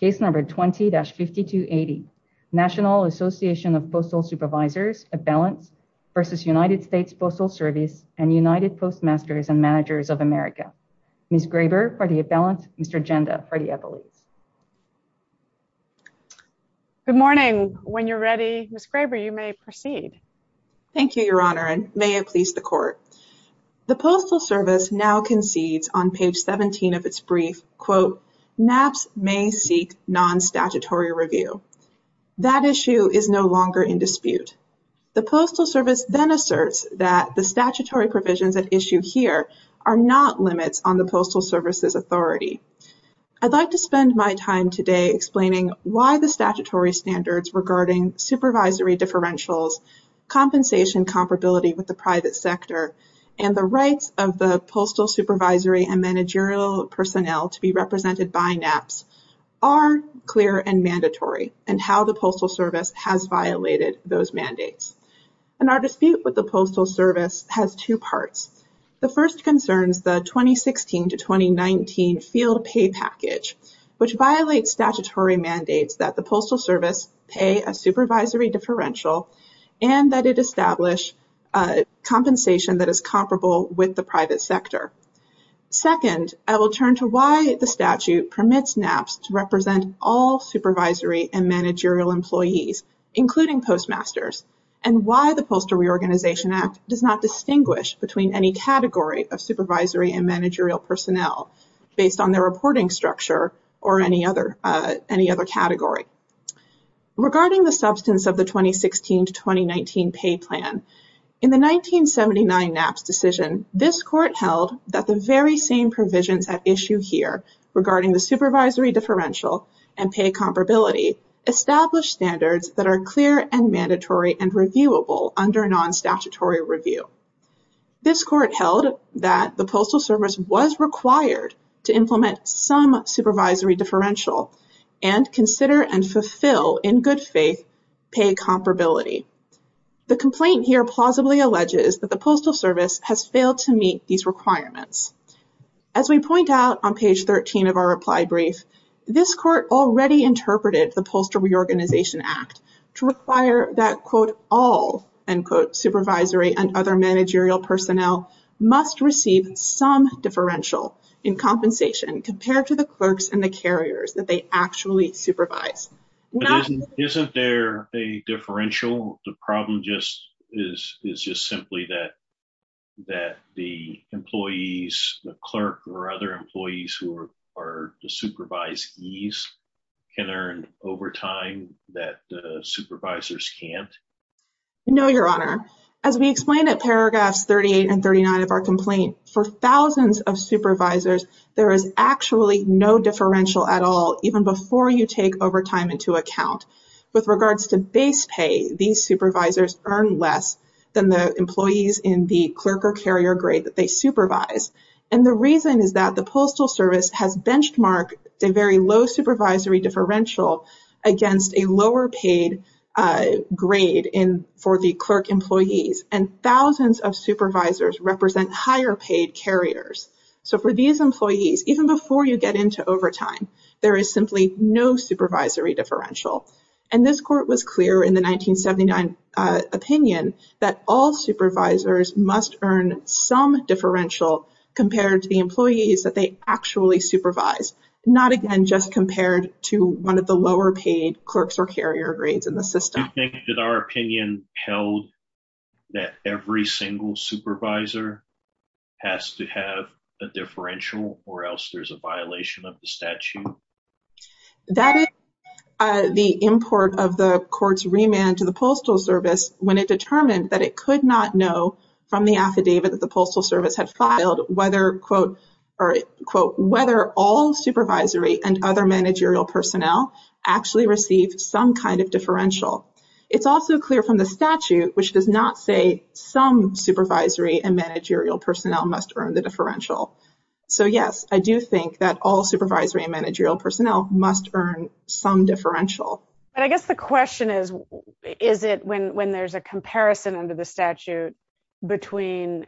Case number 20-5280 National Association of Postal Supervisors of Balance v. United States Postal Service and United Postmasters and Managers of America. Ms. Graber for the balance, Mr. Genda for the evidence. Good morning. When you're ready, Ms. Graber, you may proceed. Thank you, Your Honor, and may it please the court. The Postal Service now concedes on page 17 of its brief, quote, NAPCS may seek non-statutory review. That issue is no longer in dispute. The Postal Service then asserts that the statutory provisions at issue here are not limits on the Postal Service's authority. I'd like to spend my time today explaining why the statutory standards regarding supervisory differentials, compensation comparability with the private sector, and the rights of the postal supervisory and managerial personnel to be represented by NAPCS are clear and mandatory and how the Postal Service has violated those mandates. And our dispute with the Postal Service has two parts. The first concerns the 2016 to 2019 field pay package, which violates statutory mandates that the Postal Service pay a supervisory differential and that it establish compensation that is comparable with the private sector. Second, I will turn to why the statute permits NAPCS to represent all supervisory and managerial employees, including postmasters, and why the Postal Reorganization Act does not distinguish between any category of supervisory and managerial personnel based on their reporting structure or any other category. Regarding the substance of the 2016 to 2019 pay plan, in the 1979 NAPCS decision, this court held that the very same provisions at issue here regarding the supervisory differential and pay comparability established standards that are clear and mandatory and reviewable under non-statutory review. This court held that the Postal Service was required to implement some supervisory differential and consider and fulfill, in good faith, pay comparability. The complaint here plausibly alleges that the Postal Service has failed to meet these requirements. As we point out on page 13 of our reply brief, this court already interpreted the Postal Reorganization Act to require that, quote, all, end quote, supervisory and other managerial personnel must receive some differential in compensation compared to the clerks and the carriers that they actually supervise. Isn't there a differential? The problem is just simply that the employees, the clerk or other employees who are the supervisees, can earn overtime that the supervisors can't? No, Your Honor. As we explained at paragraphs 38 and 39 of our complaint, for thousands of supervisors, there is actually no differential at all, even before you take overtime into account. With regards to base pay, these supervisors earn less than the employees in the clerk or carrier grade that they supervise. And the reason is that the Postal Service has benchmarked a very low supervisory differential against a lower paid grade for the clerk employees. And thousands of supervisors represent higher paid carriers. So for these employees, even before you get into overtime, there is simply no supervisory differential. And this court was clear in the 1979 opinion that all supervisors must earn some differential compared to the employees that they actually supervise, not again just compared to one of the lower paid clerks or carrier grades in the system. Do you think that our opinion held that every single supervisor has to have a differential or else there's a violation of the statute? That is the import of the court's remand to the Postal Service when it determined that it could not know from the affidavit that the Postal Service had filed whether, quote, whether all supervisory and other managerial personnel actually received some kind of differential. It's also clear from the statute, which does not say some supervisory and managerial personnel must earn the differential. So, yes, I do think that all supervisory and managerial personnel must earn some differential. And I guess the question is, is it when there's a comparison under the statute between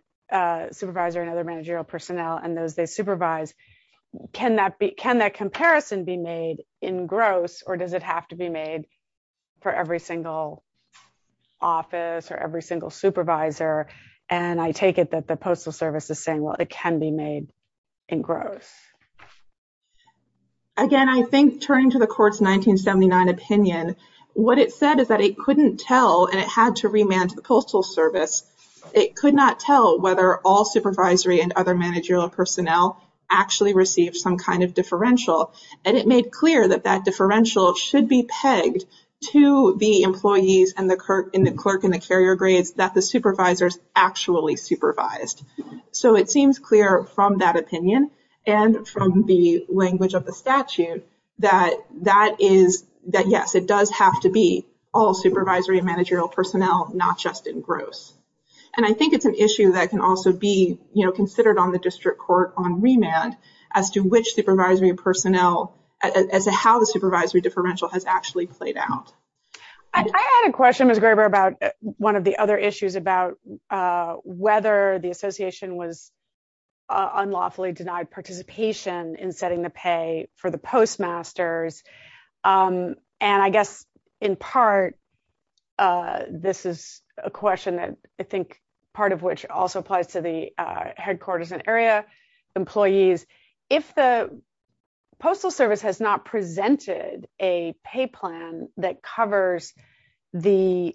supervisor and other managerial personnel and those they supervise, can that comparison be made in gross or does it have to be made for every single office or every single supervisor? And I take it that the Postal Service is saying, well, it can be made in gross. Again, I think turning to the court's 1979 opinion, what it said is that it couldn't tell and it had to remand to the Postal Service. It could not tell whether all supervisory and other managerial personnel actually received some kind of differential. And it made clear that that differential should be pegged to the employees and the clerk in the carrier grades that the supervisors actually supervised. So, it seems clear from that opinion and from the language of the statute that, yes, it does have to be all supervisory and managerial personnel, not just in gross. And I think it's an issue that can also be considered on the district court on remand as to which supervisory personnel, as to how the supervisory differential has actually played out. I had a question, Ms. Graber, about one of the other issues about whether the association was unlawfully denied participation in setting the pay for the postmasters. And I guess, in part, this is a question that I think part of which also applies to the headquarters and area employees. If the Postal Service has not presented a pay plan that covers the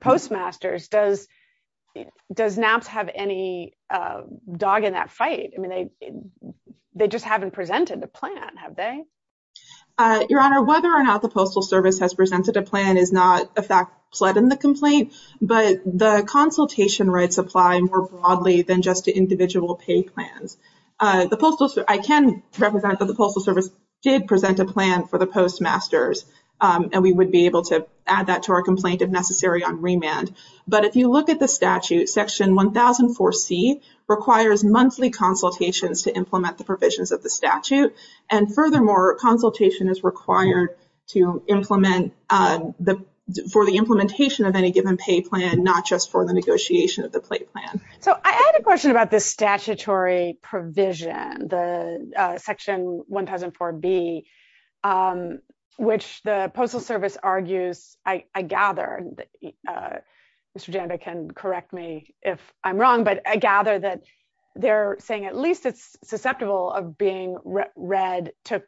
postmasters, does NAPS have any dog in that fight? They just haven't presented the plan, have they? Your Honor, whether or not the Postal Service has presented a plan is not a fact flood in the complaint, but the consultation rights apply more broadly than just to individual pay plans. I can represent that the Postal Service did present a plan for the postmasters, and we would be able to add that to our complaint if necessary on remand. But if you look at the statute, Section 1004C requires monthly consultations to implement the provisions of the statute. And furthermore, consultation is required for the implementation of any given pay plan, not just for the negotiation of the pay plan. So I had a question about the statutory provision, the Section 1004B, which the Postal Service argues, I gather, Mr. Janda can correct me if I'm wrong, but I gather that they're saying at least it's susceptible of being read to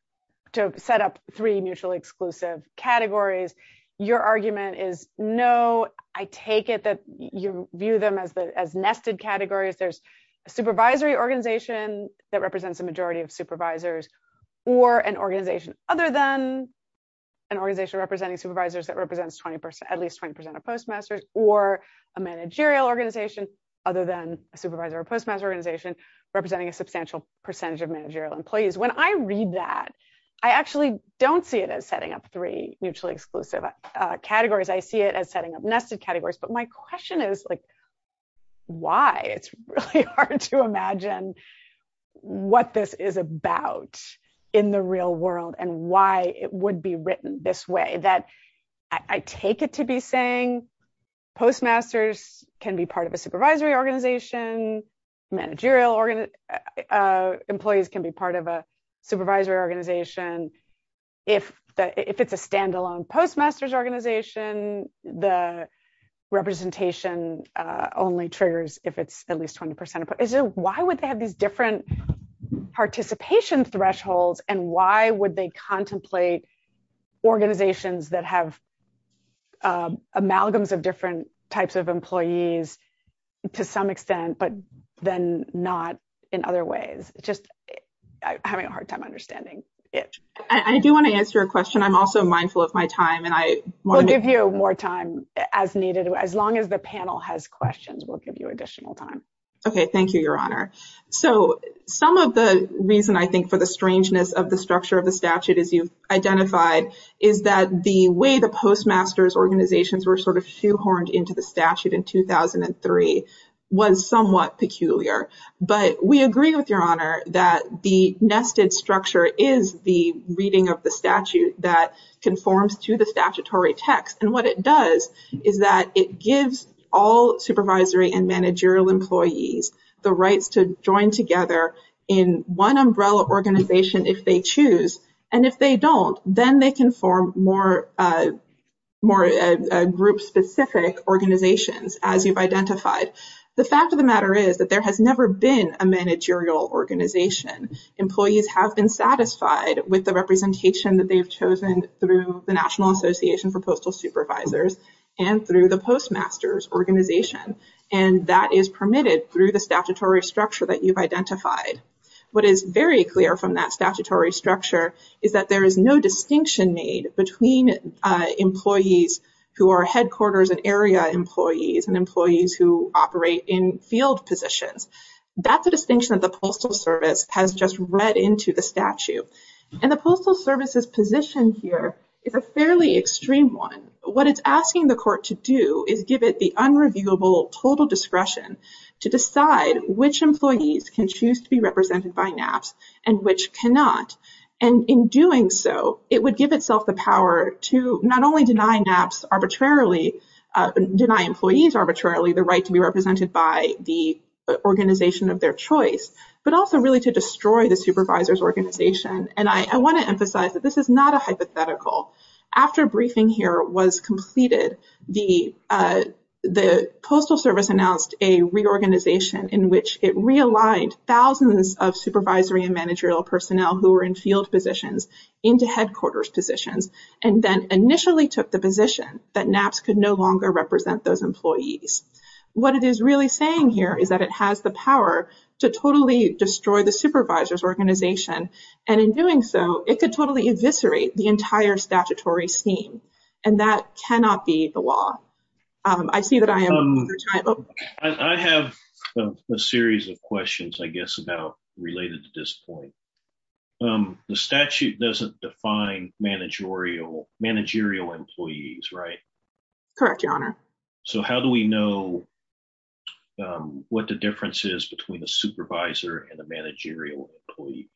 set up three mutually exclusive categories. Your argument is, no, I take it that you view them as nested categories. There's a supervisory organization that represents a majority of supervisors, or an organization other than an organization representing supervisors that represents at least 20% of postmasters, or a managerial organization other than a supervisor or postmaster organization representing a substantial percentage of managerial employees. When I read that, I actually don't see it as setting up three mutually exclusive categories. I see it as setting up nested categories. But my question is, like, why? It's really hard to imagine what this is about in the real world and why it would be written this way. I take it to be saying postmasters can be part of a supervisory organization, managerial employees can be part of a supervisory organization. If it's a standalone postmasters organization, the representation only triggers if it's at least 20%. Why would they have these different participation thresholds and why would they contemplate organizations that have amalgams of different types of employees to some extent, but then not in other ways? I'm having a hard time understanding it. I do want to answer your question. I'm also mindful of my time. We'll give you more time as needed. As long as the panel has questions, we'll give you additional time. Okay, thank you, Your Honor. So some of the reason, I think, for the strangeness of the structure of the statute, as you've identified, is that the way the postmasters organizations were sort of shoehorned into the statute in 2003 was somewhat peculiar. But we agree with Your Honor that the nested structure is the reading of the statute that conforms to the statutory text. And what it does is that it gives all supervisory and managerial employees the right to join together in one umbrella organization if they choose. And if they don't, then they can form more group-specific organizations, as you've identified. The fact of the matter is that there has never been a managerial organization. Employees have been satisfied with the representation that they've chosen through the National Association for Postal Supervisors and through the postmasters organization. And that is permitted through the statutory structure that you've identified. What is very clear from that statutory structure is that there is no distinction made between employees who are headquarters and area employees and employees who operate in field positions. That's a distinction that the Postal Service has just read into the statute. And the Postal Service's position here is a fairly extreme one. What it's asking the court to do is give it the unreviewable total discretion to decide which employees can choose to be represented by NAPs and which cannot. And in doing so, it would give itself the power to not only deny NAPs arbitrarily, deny employees arbitrarily the right to be represented by the organization of their choice, but also really to destroy the supervisor's organization. And I want to emphasize that this is not a hypothetical. After briefing here was completed, the Postal Service announced a reorganization in which it realigned thousands of supervisory and managerial personnel who were in field positions into headquarters positions and then initially took the position that NAPs could no longer represent those employees. What it is really saying here is that it has the power to totally destroy the supervisor's organization. And in doing so, it could totally eviscerate the entire statutory scheme. And that cannot be the law. I see that I am over time. I have a series of questions, I guess, about related to this point. The statute doesn't define managerial employees, right? Correct, Your Honor. So how do we know what the difference is between a supervisor and a managerial employee?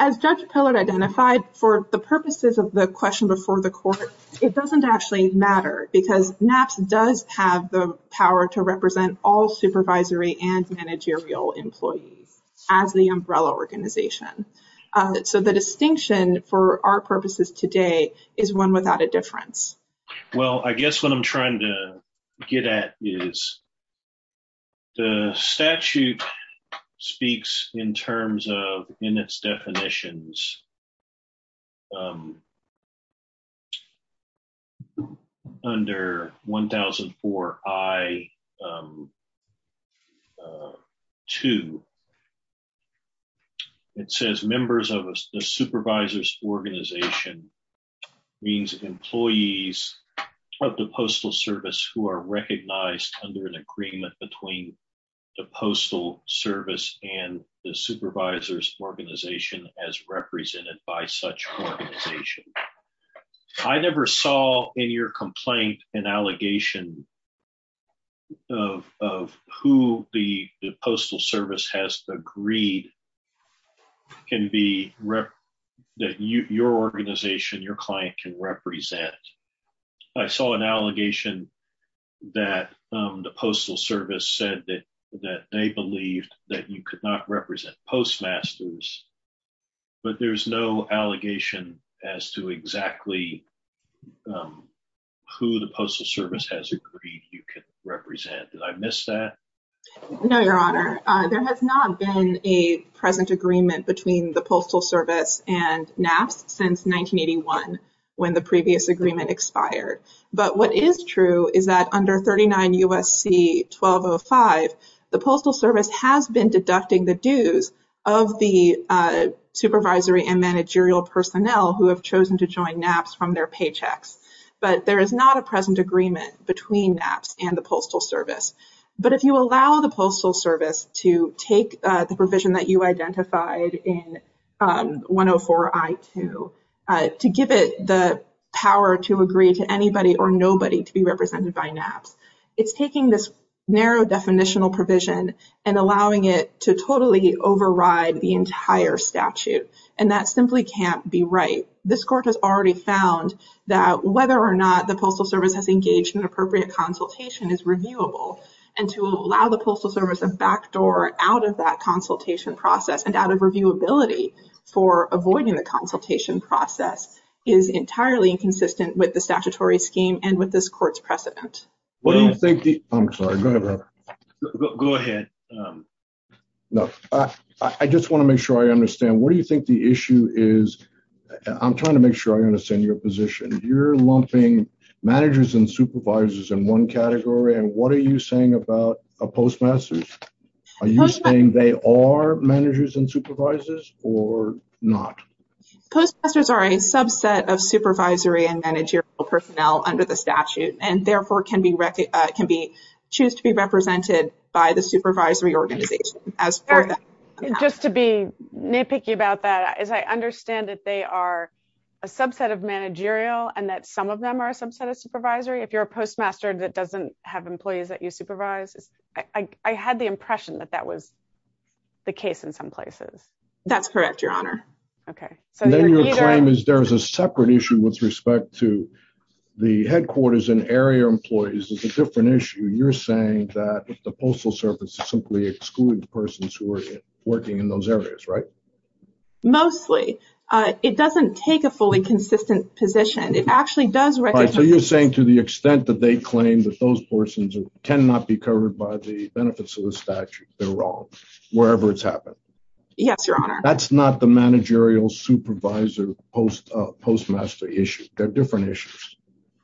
As Judge Pillard identified, for the purposes of the question before the court, it doesn't actually matter because NAPs does have the power to represent all supervisory and managerial employees as the umbrella organization. So the distinction for our purposes today is one without a difference. Well, I guess what I'm trying to get at is the statute speaks in terms of, in its definitions, under 1004 I-2. It says members of the supervisor's organization means employees of the Postal Service who are recognized under an agreement between the Postal Service and the supervisor's organization as represented by such an organization. I never saw in your complaint an allegation of who the Postal Service has agreed that your organization, your client, can represent. I saw an allegation that the Postal Service said that they believed that you could not represent Postmasters, but there's no allegation as to exactly who the Postal Service has agreed you could represent. Did I miss that? No, Your Honor. There has not been a present agreement between the Postal Service and NAPs since 1981 when the previous agreement expired. But what is true is that under 39 U.S.C. 1205, the Postal Service has been deducting the dues of the supervisory and managerial personnel who have chosen to join NAPs from their paychecks. There is not a present agreement between NAPs and the Postal Service. But if you allow the Postal Service to take the provision that you identified in 104 I-2 to give it the power to agree to anybody or nobody to be represented by NAPs, it's taking this narrow definitional provision and allowing it to totally override the entire statute. And that simply can't be right. This Court has already found that whether or not the Postal Service has engaged in appropriate consultation is reviewable. And to allow the Postal Service a backdoor out of that consultation process and out of reviewability for avoiding the consultation process is entirely inconsistent with the statutory scheme and with this Court's precedent. I'm sorry. Go ahead. Go ahead. I just want to make sure I understand. What do you think the issue is? I'm trying to make sure I understand your position. You're lumping managers and supervisors in one category. And what are you saying about a postmaster? Are you saying they are managers and supervisors or not? Postmasters are a subset of supervisory and managerial personnel under the statute and, therefore, can choose to be represented by the supervisory organization. Just to be nitpicky about that, I understand that they are a subset of managerial and that some of them are a subset of supervisory. If you're a postmaster that doesn't have employees that you supervise, I had the impression that that was the case in some places. That's correct, Your Honor. And then your claim is there's a separate issue with respect to the headquarters and area employees. It's a different issue. You're saying that the Postal Service simply excludes persons who are working in those areas, right? Mostly. It doesn't take a fully consistent position. It actually does... So you're saying to the extent that they claim that those persons cannot be covered by the benefits of the statute, they're wrong, wherever it's happened. Yes, Your Honor. That's not the managerial supervisor postmaster issue. They're different issues.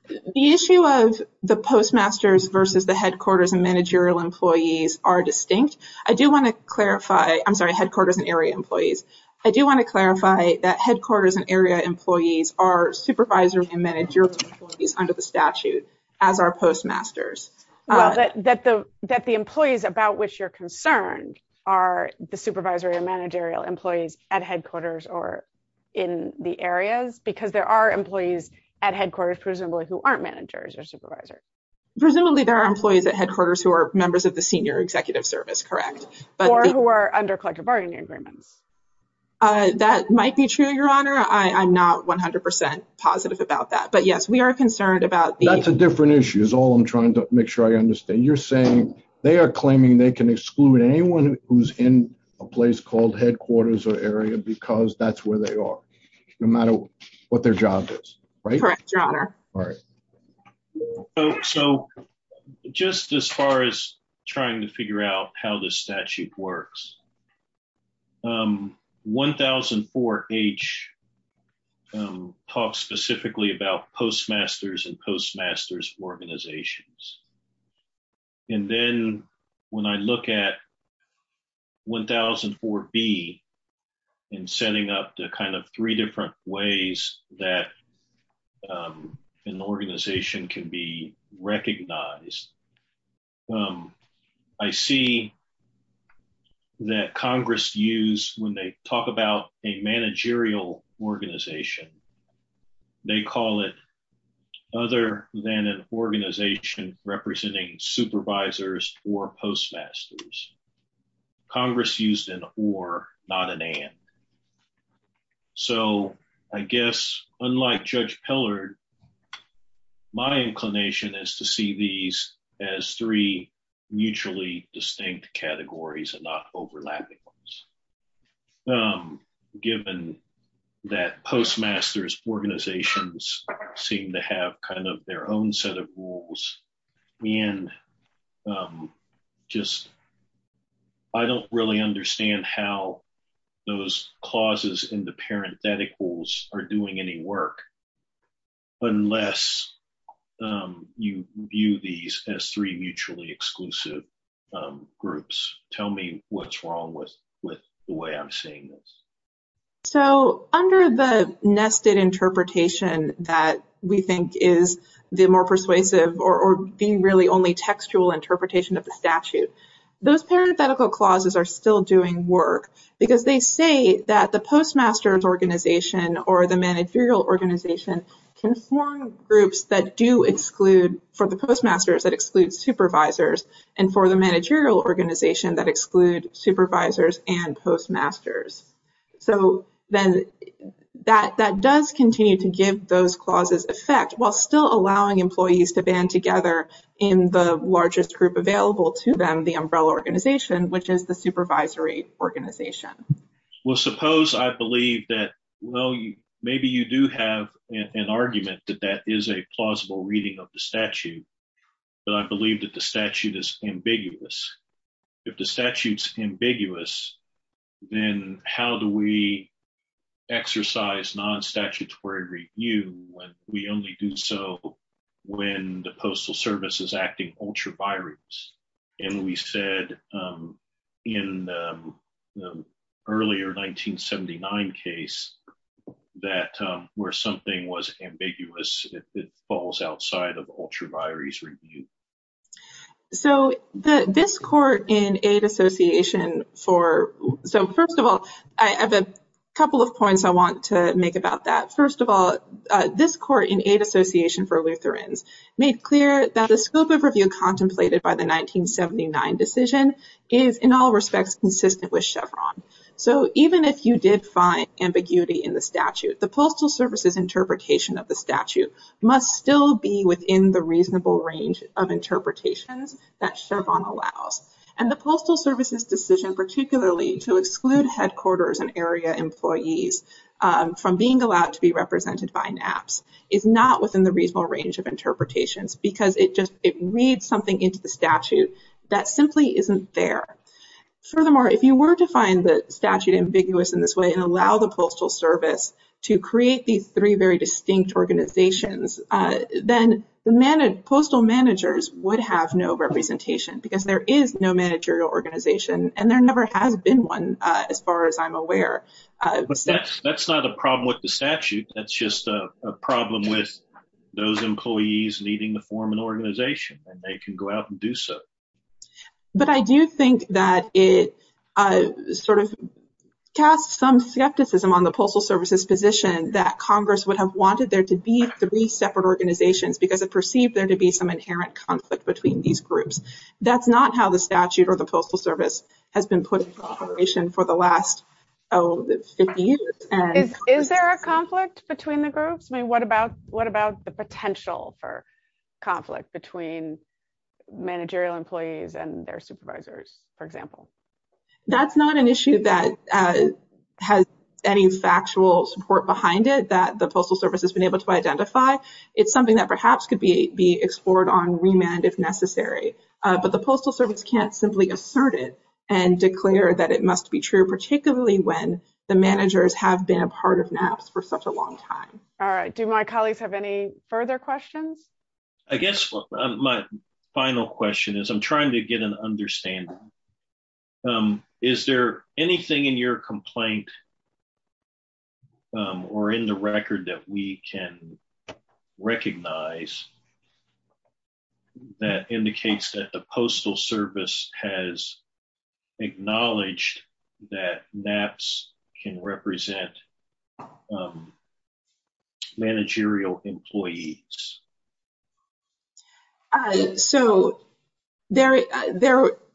The issue of the postmasters versus the headquarters and managerial employees are distinct. I do want to clarify... I'm sorry, headquarters and area employees. I do want to clarify that headquarters and area employees are supervisory and managerial employees under the statute as our postmasters. That the employees about which you're concerned are the supervisory and managerial employees at headquarters or in the areas because there are employees at headquarters presumably who aren't managers or supervisors. Presumably there are employees at headquarters who are members of the senior executive service, correct? Or who are under collective bargaining agreements. That might be true, Your Honor. I'm not 100% positive about that. But yes, we are concerned about... That's a different issue is all I'm trying to make sure I understand. You're saying they are claiming they can exclude anyone who's in a place called headquarters or area because that's where they are, no matter what their job is, right? Correct, Your Honor. So just as far as trying to figure out how the statute works, 1004H talks specifically about postmasters and postmasters organizations. And then when I look at 1004B and setting up the kind of three different ways that an organization can be recognized, I see that Congress used when they talk about a managerial organization. They call it other than an organization representing supervisors or postmasters. Congress used an or, not an and. So I guess, unlike Judge Pillard, my inclination is to see these as three mutually distinct categories and not overlapping ones. Given that postmasters organizations seem to have kind of their own set of rules and just... I don't really understand how those clauses in the parentheticals are doing any work. Unless you view these as three mutually exclusive groups. Tell me what's wrong with the way I'm seeing this. So under the nested interpretation that we think is the more persuasive or the really only textual interpretation of the statute, those parenthetical clauses are still doing work because they say that the postmasters organization or the managerial organization can form groups that do exclude, for the postmasters, that exclude supervisors and for the managerial organization that exclude supervisors and postmasters. So then that does continue to give those clauses effect while still allowing employees to band together in the largest group available to them, the umbrella organization, which is the supervisory organization. Well, suppose I believe that, well, maybe you do have an argument that that is a plausible reading of the statute. But I believe that the statute is ambiguous. If the statute's ambiguous, then how do we exercise non-statutory review when we only do so when the Postal Service is acting ultra-virus? And we said in the earlier 1979 case that where something was ambiguous, it falls outside of ultra-virus review. So this court in Aid Association for, so first of all, I have a couple of points I want to make about that. First of all, this court in Aid Association for Lutherans made clear that the scope of review contemplated by the 1979 decision is in all respects consistent with Chevron. So even if you did find ambiguity in the statute, the Postal Service's interpretation of the statute must still be within the reasonable range of interpretations that Chevron allows. And the Postal Service's decision particularly to exclude headquarters and area employees from being allowed to be represented by NAPCS is not within the reasonable range of interpretations because it just, it reads something into the statute that simply isn't there. Furthermore, if you were to find the statute ambiguous in this way and allow the Postal Service to create these three very distinct organizations, then the postal managers would have no representation because there is no managerial organization, and there never has been one as far as I'm aware. But that's not a problem with the statute. That's just a problem with those employees needing to form an organization, and they can go out and do so. But I do think that it sort of casts some skepticism on the Postal Service's position that Congress would have wanted there to be three separate organizations because it perceived there to be some inherent conflict between these groups. That's not how the statute or the Postal Service has been put into operation for the last 50 years. Is there a conflict between the groups? I mean, what about the potential for conflict between managerial employees and their supervisors, for example? That's not an issue that has any factual support behind it that the Postal Service has been able to identify. It's something that perhaps could be explored on remand if necessary. But the Postal Service can't simply assert it and declare that it must be true, particularly when the managers have been a part of NAPCS for such a long time. All right. Do my colleagues have any further questions? I guess my final question is I'm trying to get an understanding. Is there anything in your complaint or in the record that we can recognize that indicates that the Postal Service has acknowledged that NAPCS can represent managerial employees? So there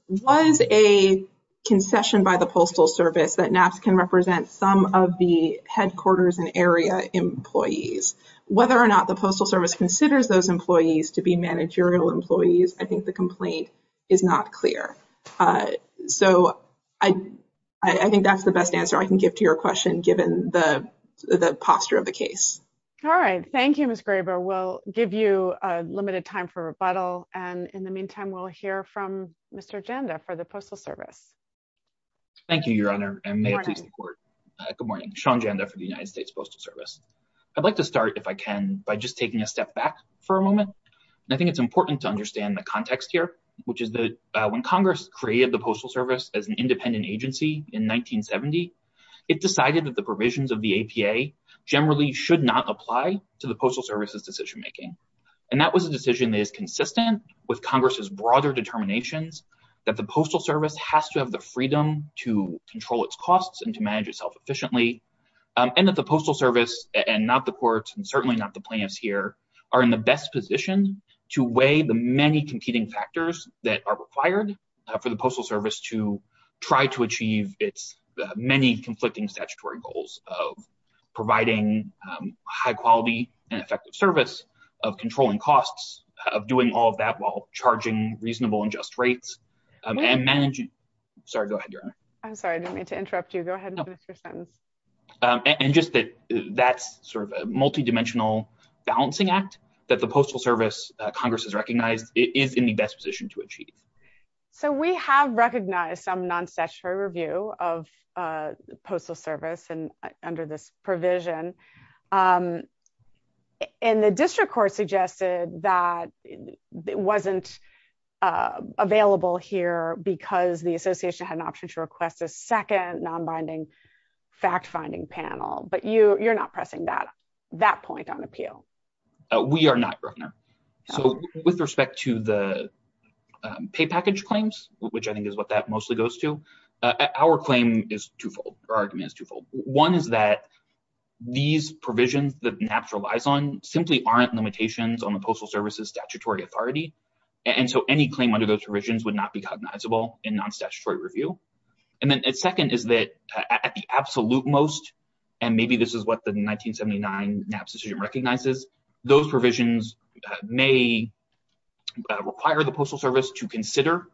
was a concession by the Postal Service that NAPCS can represent some of the headquarters and area employees. Whether or not the Postal Service considers those employees to be managerial employees, I think the complaint is not clear. So I think that's the best answer I can give to your question, given the posture of the case. All right. Thank you, Ms. Graber. We'll give you limited time for rebuttal. And in the meantime, we'll hear from Mr. Ganda for the Postal Service. Thank you, Your Honor. And may I please report? Good morning. Good morning. Sean Ganda for the United States Postal Service. I'd like to start, if I can, by just taking a step back for a moment. I think it's important to understand the context here, which is that when Congress created the Postal Service as an independent agency in 1970, it decided that the provisions of the APA generally should not apply to the Postal Service's decision-making. And that was a decision that is consistent with Congress's broader determinations that the Postal Service has to have the freedom to control its costs and to manage itself efficiently, and that the Postal Service, and not the courts, and certainly not the plaintiffs here, are in the best position to weigh the many competing factors that are required for the Postal Service to try to achieve its many conflicting statutory goals of providing high-quality and effective service, of controlling costs, of doing all of that while charging reasonable and just rates, and managing – sorry, go ahead, Your Honor. I'm sorry, I didn't mean to interrupt you. Go ahead, Mr. Sims. And just that that's sort of a multidimensional balancing act that the Postal Service, Congress has recognized, is in the best position to achieve. So we have recognized some non-statutory review of Postal Service under this provision, and the district court suggested that it wasn't available here because the association had an option to request a second non-binding fact-finding panel, but you're not pressing that point on appeal. We are not, Your Honor. So with respect to the pay package claims, which I think is what that mostly goes to, our claim is twofold, or our argument is twofold. One is that these provisions that NAPCS relies on simply aren't limitations on the Postal Service's statutory authority, and so any claim under those provisions would not be cognizable in non-statutory review. And then second is that at the absolute most, and maybe this is what the 1979 NAPCS decision recognizes, those provisions may require the Postal Service to consider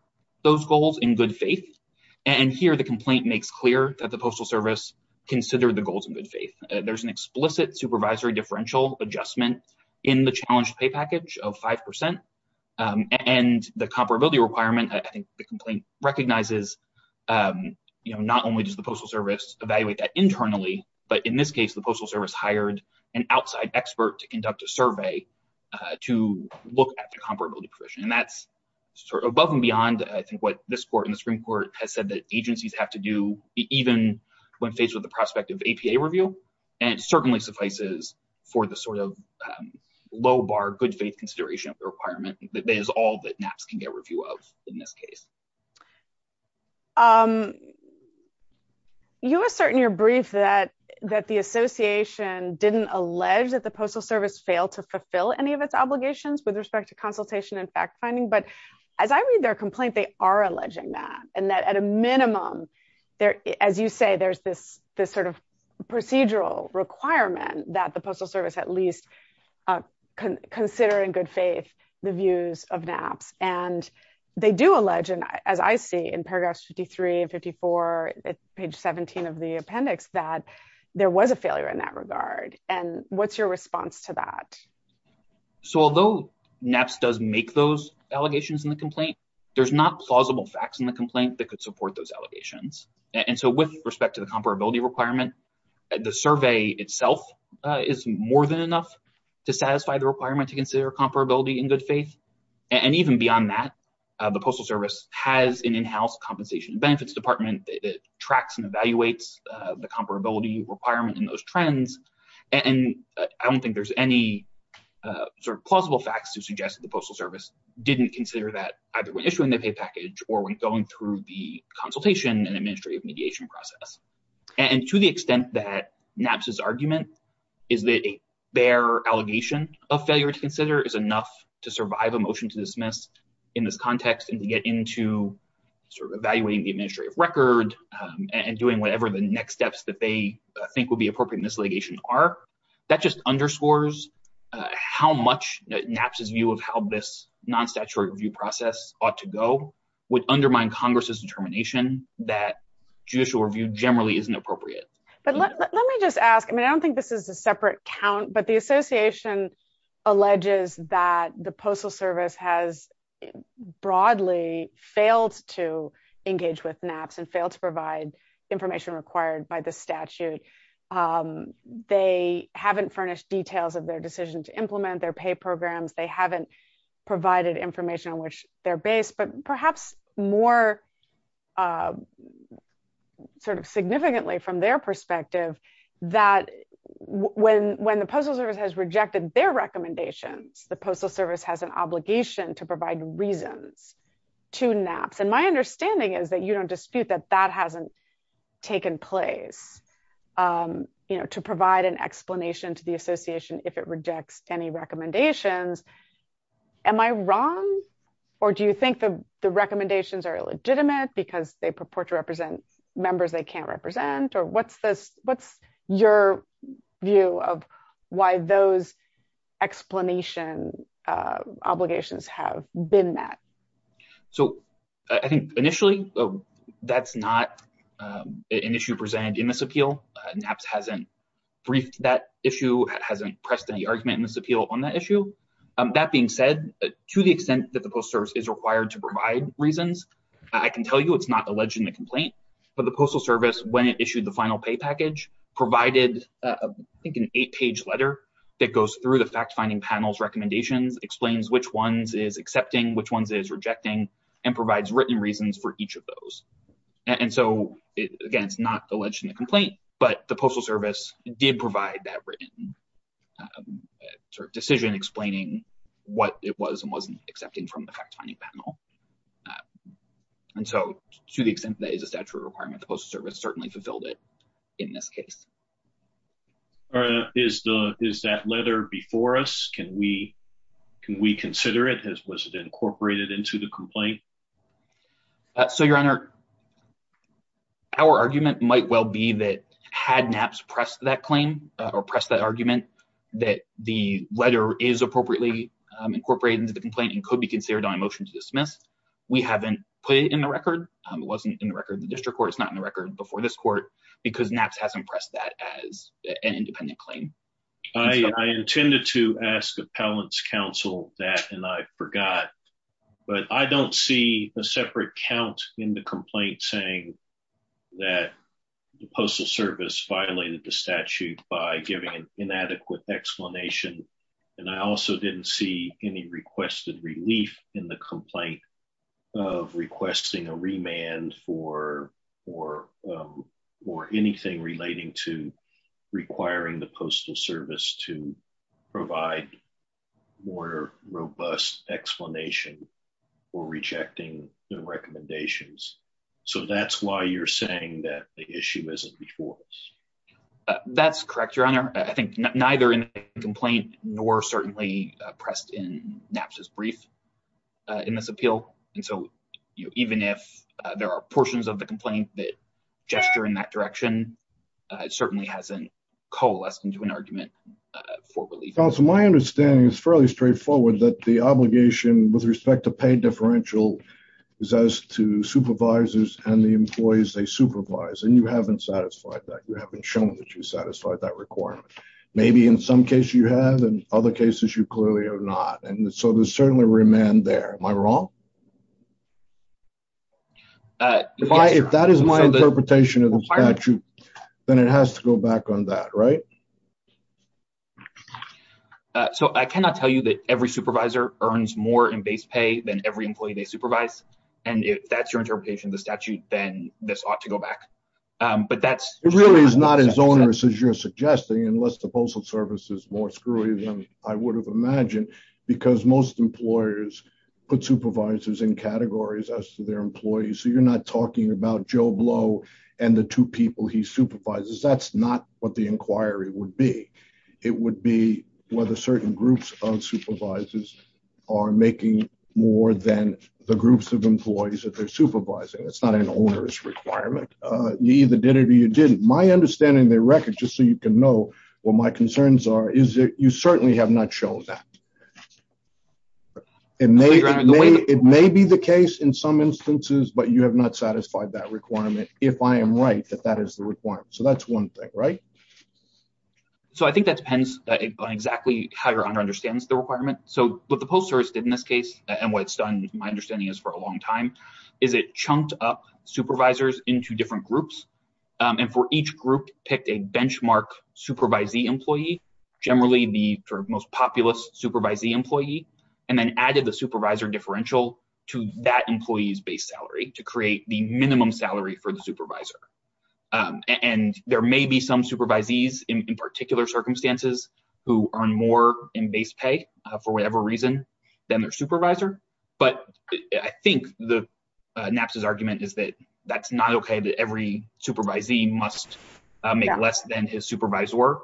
those goals in good faith, and here the complaint makes clear that the Postal Service considered the goals in good faith. There's an explicit supervisory differential adjustment in the challenge pay package of 5%, and the comparability requirement, I think the complaint recognizes, you know, not only does the Postal Service evaluate that internally, but in this case, the Postal Service hired an outside expert to conduct a survey to look at the comparability provision. And that's sort of above and beyond, I think, what this Court and the Supreme Court has said that agencies have to do, even when faced with the prospect of APA review, and it certainly suffices for the sort of low bar good faith consideration of the requirement. That is all that NAPCS can get review of in this case. You assert in your brief that the Association didn't allege that the Postal Service failed to fulfill any of its obligations with respect to consultation and fact-finding, but as I read their complaint, they are alleging that, and that at a minimum, as you say, there's this sort of procedural requirement that the Postal Service at least consider in good faith the views of NAPCS. And they do allege, as I see in paragraphs 53 and 54, page 17 of the appendix, that there was a failure in that regard. And what's your response to that? So although NAPCS does make those allegations in the complaint, there's not plausible facts in the complaint that could support those allegations. And so with respect to the comparability requirement, the survey itself is more than enough to satisfy the requirement to consider comparability in good faith. And even beyond that, the Postal Service has an in-house compensation and benefits department that tracks and evaluates the comparability requirement in those trends. And I don't think there's any sort of plausible facts to suggest that the Postal Service didn't consider that either when issuing the pay package or when going through the consultation and administrative mediation process. And to the extent that NAPCS's argument is that a fair allegation of failure to consider is enough to survive a motion to dismiss in this context and to get into sort of evaluating the administrative record and doing whatever the next steps that they think would be appropriate in this litigation are, that just underscores how much NAPCS's view of how this non-statutory review process ought to go would undermine Congress's determination that judicial review generally isn't appropriate. But let me just ask, I mean, I don't think this is a separate count, but the Association alleges that the Postal Service has broadly failed to engage with NAPCS and failed to provide information required by the statute. They haven't furnished details of their decision to implement their pay programs. They haven't provided information on which they're based, but perhaps more sort of significantly from their perspective that when the Postal Service has rejected their recommendations, the Postal Service has an obligation to provide reasons to NAPCS. And my understanding is that you don't dispute that that hasn't taken place, you know, to provide an explanation to the Association if it rejects any recommendations. Am I wrong? Or do you think the recommendations are illegitimate because they purport to represent members they can't represent? Or what's your view of why those explanation obligations have been met? So I think initially, that's not an issue presented in this appeal. NAPCS hasn't briefed that issue, hasn't pressed any argument in this appeal on that issue. That being said, to the extent that the Postal Service is required to provide reasons, I can tell you it's not alleged in the complaint. But the Postal Service, when it issued the final pay package, provided, I think, an eight-page letter that goes through the fact-finding panel's recommendations, explains which ones it is accepting, which ones it is rejecting, and provides written reasons for each of those. And so, again, it's not alleged in the complaint, but the Postal Service did provide that written sort of decision explaining what it was and wasn't accepting from the fact-finding panel. And so, to the extent that is a statutory requirement, the Postal Service certainly fulfilled it in this case. Is that letter before us? Can we consider it? Has it been incorporated into the complaint? So, Your Honor, our argument might well be that had NAPCS pressed that claim, or pressed that argument, that the letter is appropriately incorporated into the complaint and could be considered on a motion to dismiss. We haven't put it in the record. It wasn't in the record in the district court. It's not in the record before this court, because NAPCS hasn't pressed that as an independent claim. I intended to ask appellant's counsel that, and I forgot, but I don't see a separate count in the complaint saying that the Postal Service violated the statute by giving an inadequate explanation. And I also didn't see any requested relief in the complaint of requesting a remand for anything relating to requiring the Postal Service to provide more robust explanation or rejecting the recommendations. So that's why you're saying that the issue isn't before us. That's correct, Your Honor. I think neither in the complaint nor certainly pressed in NAPCS's brief in this appeal. And so even if there are portions of the complaint that gesture in that direction, it certainly hasn't coalesced into an argument for relief. Counsel, my understanding is fairly straightforward, that the obligation with respect to paid differential is as to supervisors and the employees they supervise. And you haven't satisfied that. You haven't shown that you satisfied that requirement. Maybe in some cases you have, in other cases you clearly have not. And so there's certainly a remand there. Am I wrong? If that is my interpretation of the statute, then it has to go back on that, right? So I cannot tell you that every supervisor earns more in base pay than every employee they supervise. And if that's your interpretation of the statute, then this ought to go back. It really is not as onerous as you're suggesting, unless the Postal Service is more screwy than I would have imagined, because most employers put supervisors in categories as to their employees. So you're not talking about Joe Blow and the two people he supervises. That's not what the inquiry would be. It would be whether certain groups of supervisors are making more than the groups of employees that they're supervising. It's not an onerous requirement. My understanding of the record, just so you can know what my concerns are, is that you certainly have not shown that. It may be the case in some instances, but you have not satisfied that requirement, if I am right, that that is the requirement. So that's one thing, right? So I think that depends on exactly how your owner understands the requirement. So what the Postal Service did in this case, and what it's done, my understanding is, for a long time, is it chunked up supervisors into different groups. And for each group, it picked a benchmark supervisee employee, generally the most populous supervisee employee, and then added the supervisor differential to that employee's base salary to create the minimum salary for the supervisor. And there may be some supervisees in particular circumstances who earn more in base pay, for whatever reason, than their supervisor. But I think NAPCS's argument is that that's not okay that every supervisee must make less than his supervisor.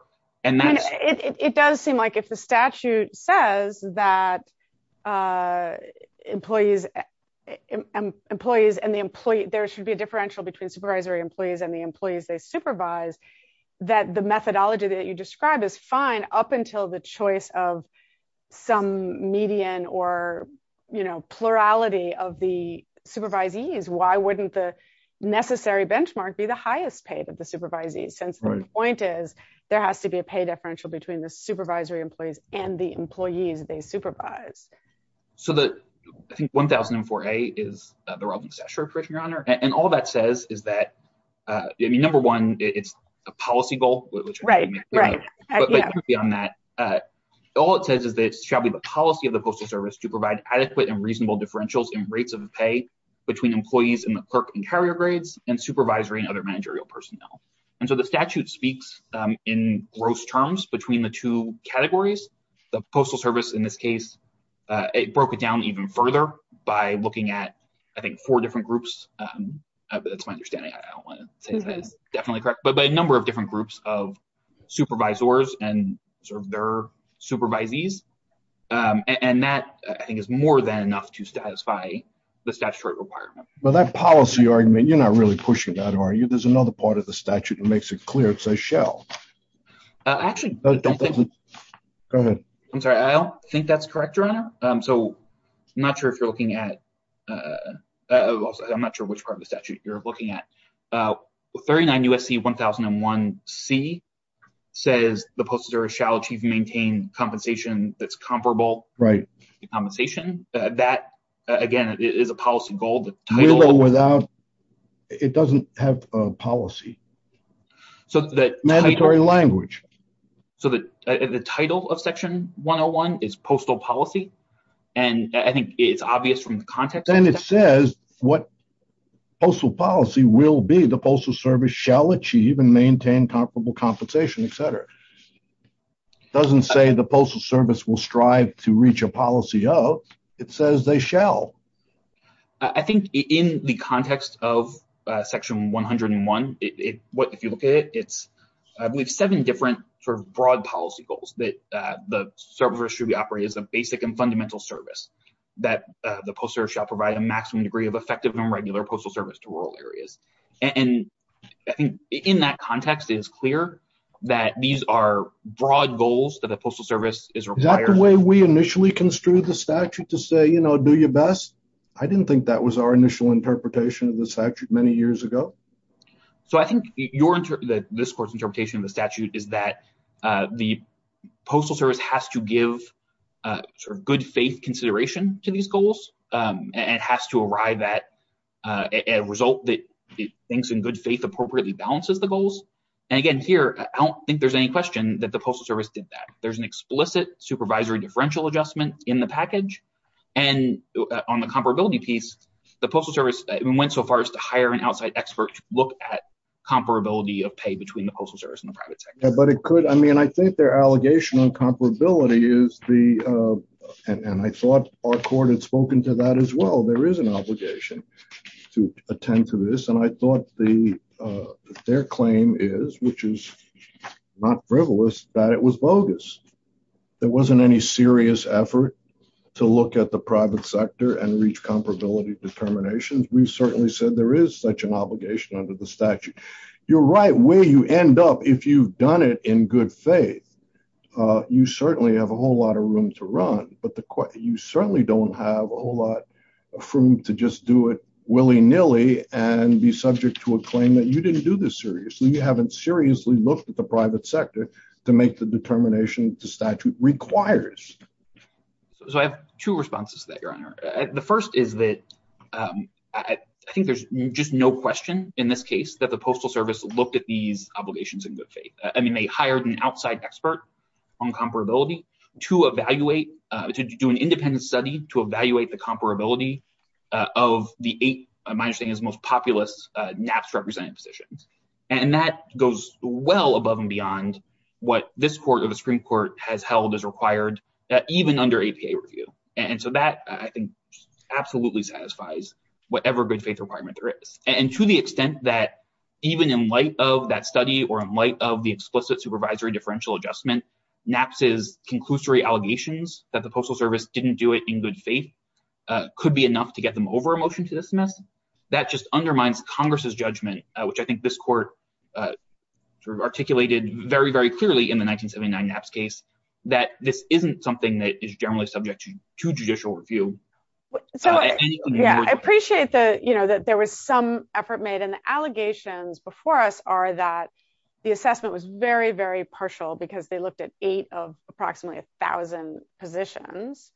It does seem like if the statute says that there should be a differential between supervisory employees and the employees they supervise, that the methodology that you describe is fine up until the choice of some median or plurality of the supervisees. But the point is, why wouldn't the necessary benchmark be the highest paid of the supervisees? Since the point is, there has to be a pay differential between the supervisory employees and the employees they supervise. So, I think 1004A is the Robin Stasher correction, Your Honor. And all that says is that, number one, it's a policy goal. Right, right. But beyond that, all it says is that it shall be the policy of the Postal Service to provide adequate and reasonable differentials in rates of pay between employees in the clerk and carrier grades and supervisory and other managerial personnel. And so the statute speaks in gross terms between the two categories. The Postal Service, in this case, it broke it down even further by looking at, I think, four different groups. That's my understanding. I don't want to say that. Definitely correct. But by a number of different groups of supervisors and their supervisees. And that, I think, is more than enough to satisfy the statutory requirement. But that policy argument, you're not really pushing that, are you? There's another part of the statute that makes it clear it says shall. Actually, I don't think that's correct, Your Honor. So, I'm not sure if you're looking at, I'm not sure which part of the statute you're looking at. 39 U.S.C. 1001C says the Postal Service shall achieve and maintain compensation that's comparable. Right. Compensation. That, again, is a policy goal. It doesn't have a policy. Mandatory language. So, the title of Section 101 is Postal Policy. And I think it's obvious from the context. Then it says what Postal Policy will be. The Postal Service shall achieve and maintain comparable compensation, etc. It doesn't say the Postal Service will strive to reach a policy of. It says they shall. I think in the context of Section 101, if you look at it, we have seven different sort of broad policy goals that the service should be operating as a basic and fundamental service. That the Postal Service shall provide a maximum degree of effective and regular Postal Service to rural areas. And I think in that context, it's clear that these are broad goals that the Postal Service is required. The way we initially construed the statute to say, you know, do your best, I didn't think that was our initial interpretation of the statute many years ago. So, I think your interpretation, this court's interpretation of the statute is that the Postal Service has to give good faith consideration to these goals and has to arrive at a result that thinks in good faith appropriately balances the goals. And again here, I don't think there's any question that the Postal Service did that. There's an explicit supervisory differential adjustment in the package. And on the comparability piece, the Postal Service went so far as to hire an outside expert to look at comparability of pay between the Postal Service and the private sector. But it could, I mean, I think their allegation on comparability is the, and I thought our court had spoken to that as well, there is an obligation to attend to this. And I thought their claim is, which is not frivolous, that it was bogus. There wasn't any serious effort to look at the private sector and reach comparability determinations. We certainly said there is such an obligation under the statute. You're right, where you end up, if you've done it in good faith, you certainly have a whole lot of room to run. But you certainly don't have a whole lot of room to just do it willy-nilly and be subject to a claim that you didn't do this seriously. You haven't seriously looked at the private sector to make the determination the statute requires. So I have two responses to that, Your Honor. The first is that I think there's just no question in this case that the Postal Service looked at these obligations in good faith. I mean, they hired an outside expert on comparability to evaluate, to do an independent study to evaluate the comparability of the eight, my understanding, most populous NAFTA-represented positions. And that goes well above and beyond what this court or the Supreme Court has held is required, even under APA review. And so that absolutely satisfies whatever good faith requirement there is. And to the extent that even in light of that study or in light of the explicit supervisory differential adjustment, NAFTA's conclusory allegations that the Postal Service didn't do it in good faith could be enough to get them over a motion to dismiss, that just undermines Congress's judgment, which I think this court articulated very, very clearly in the 1979 NAPS case, that this isn't something that is generally subject to judicial review. Yeah, I appreciate that, you know, that there was some effort made. And the allegations before us are that the assessment was very, very partial because they looked at eight of approximately a thousand positions.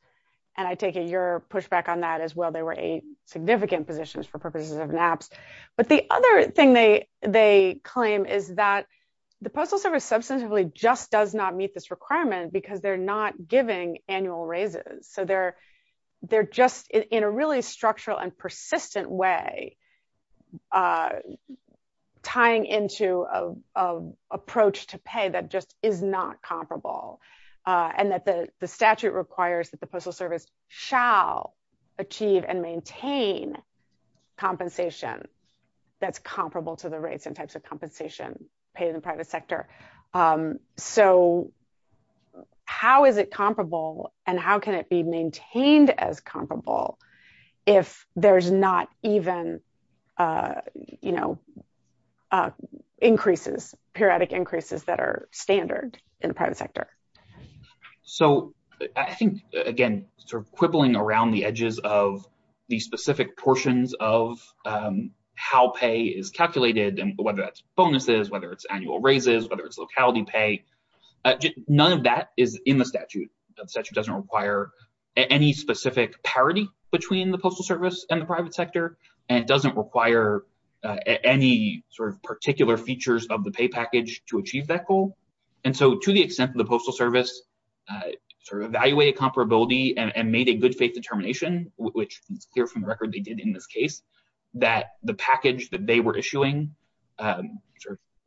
And I take your pushback on that as well. There were eight significant positions for purposes of NAPS. But the other thing they claim is that the Postal Service substantively just does not meet this requirement because they're not giving annual raises. So they're just in a really structural and persistent way tying into an approach to pay that just is not comparable. And that the statute requires that the Postal Service shall achieve and maintain compensation that's comparable to the rates and types of compensation paid in the private sector. So how is it comparable and how can it be maintained as comparable if there's not even, you know, increases, periodic increases that are standard in the private sector? So I think, again, sort of crippling around the edges of the specific portions of how pay is calculated, and whether that's bonuses, whether it's annual raises, whether it's locality pay, none of that is in the statute. The statute doesn't require any specific parity between the Postal Service and the private sector. And it doesn't require any sort of particular features of the pay package to achieve that goal. And so to the extent that the Postal Service sort of evaluated comparability and made a good faith determination, which is clear from the record they did in this case, that the package that they were issuing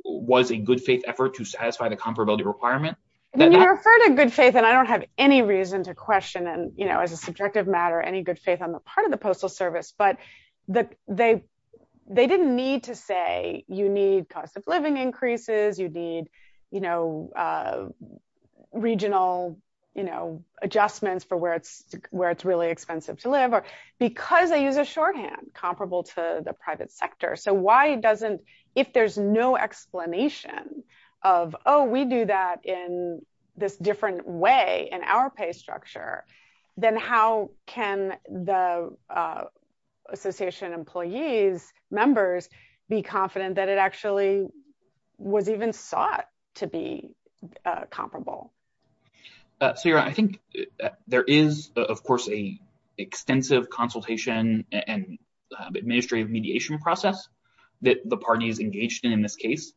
was a good faith effort to satisfy the comparability requirement. When you refer to good faith, and I don't have any reason to question, you know, as a subjective matter, any good faith on the part of the Postal Service, but they didn't need to say you need cost of living increases, you need, you know, regional, you know, adjustments for where it's really expensive to live, because they use a shorthand comparable to the private sector. So why doesn't, if there's no explanation of, oh, we do that in this different way in our pay structure, then how can the association employees, members, be confident that it actually was even thought to be comparable? Sarah, I think there is, of course, an extensive consultation and administrative mediation process that the party is engaged in in this case.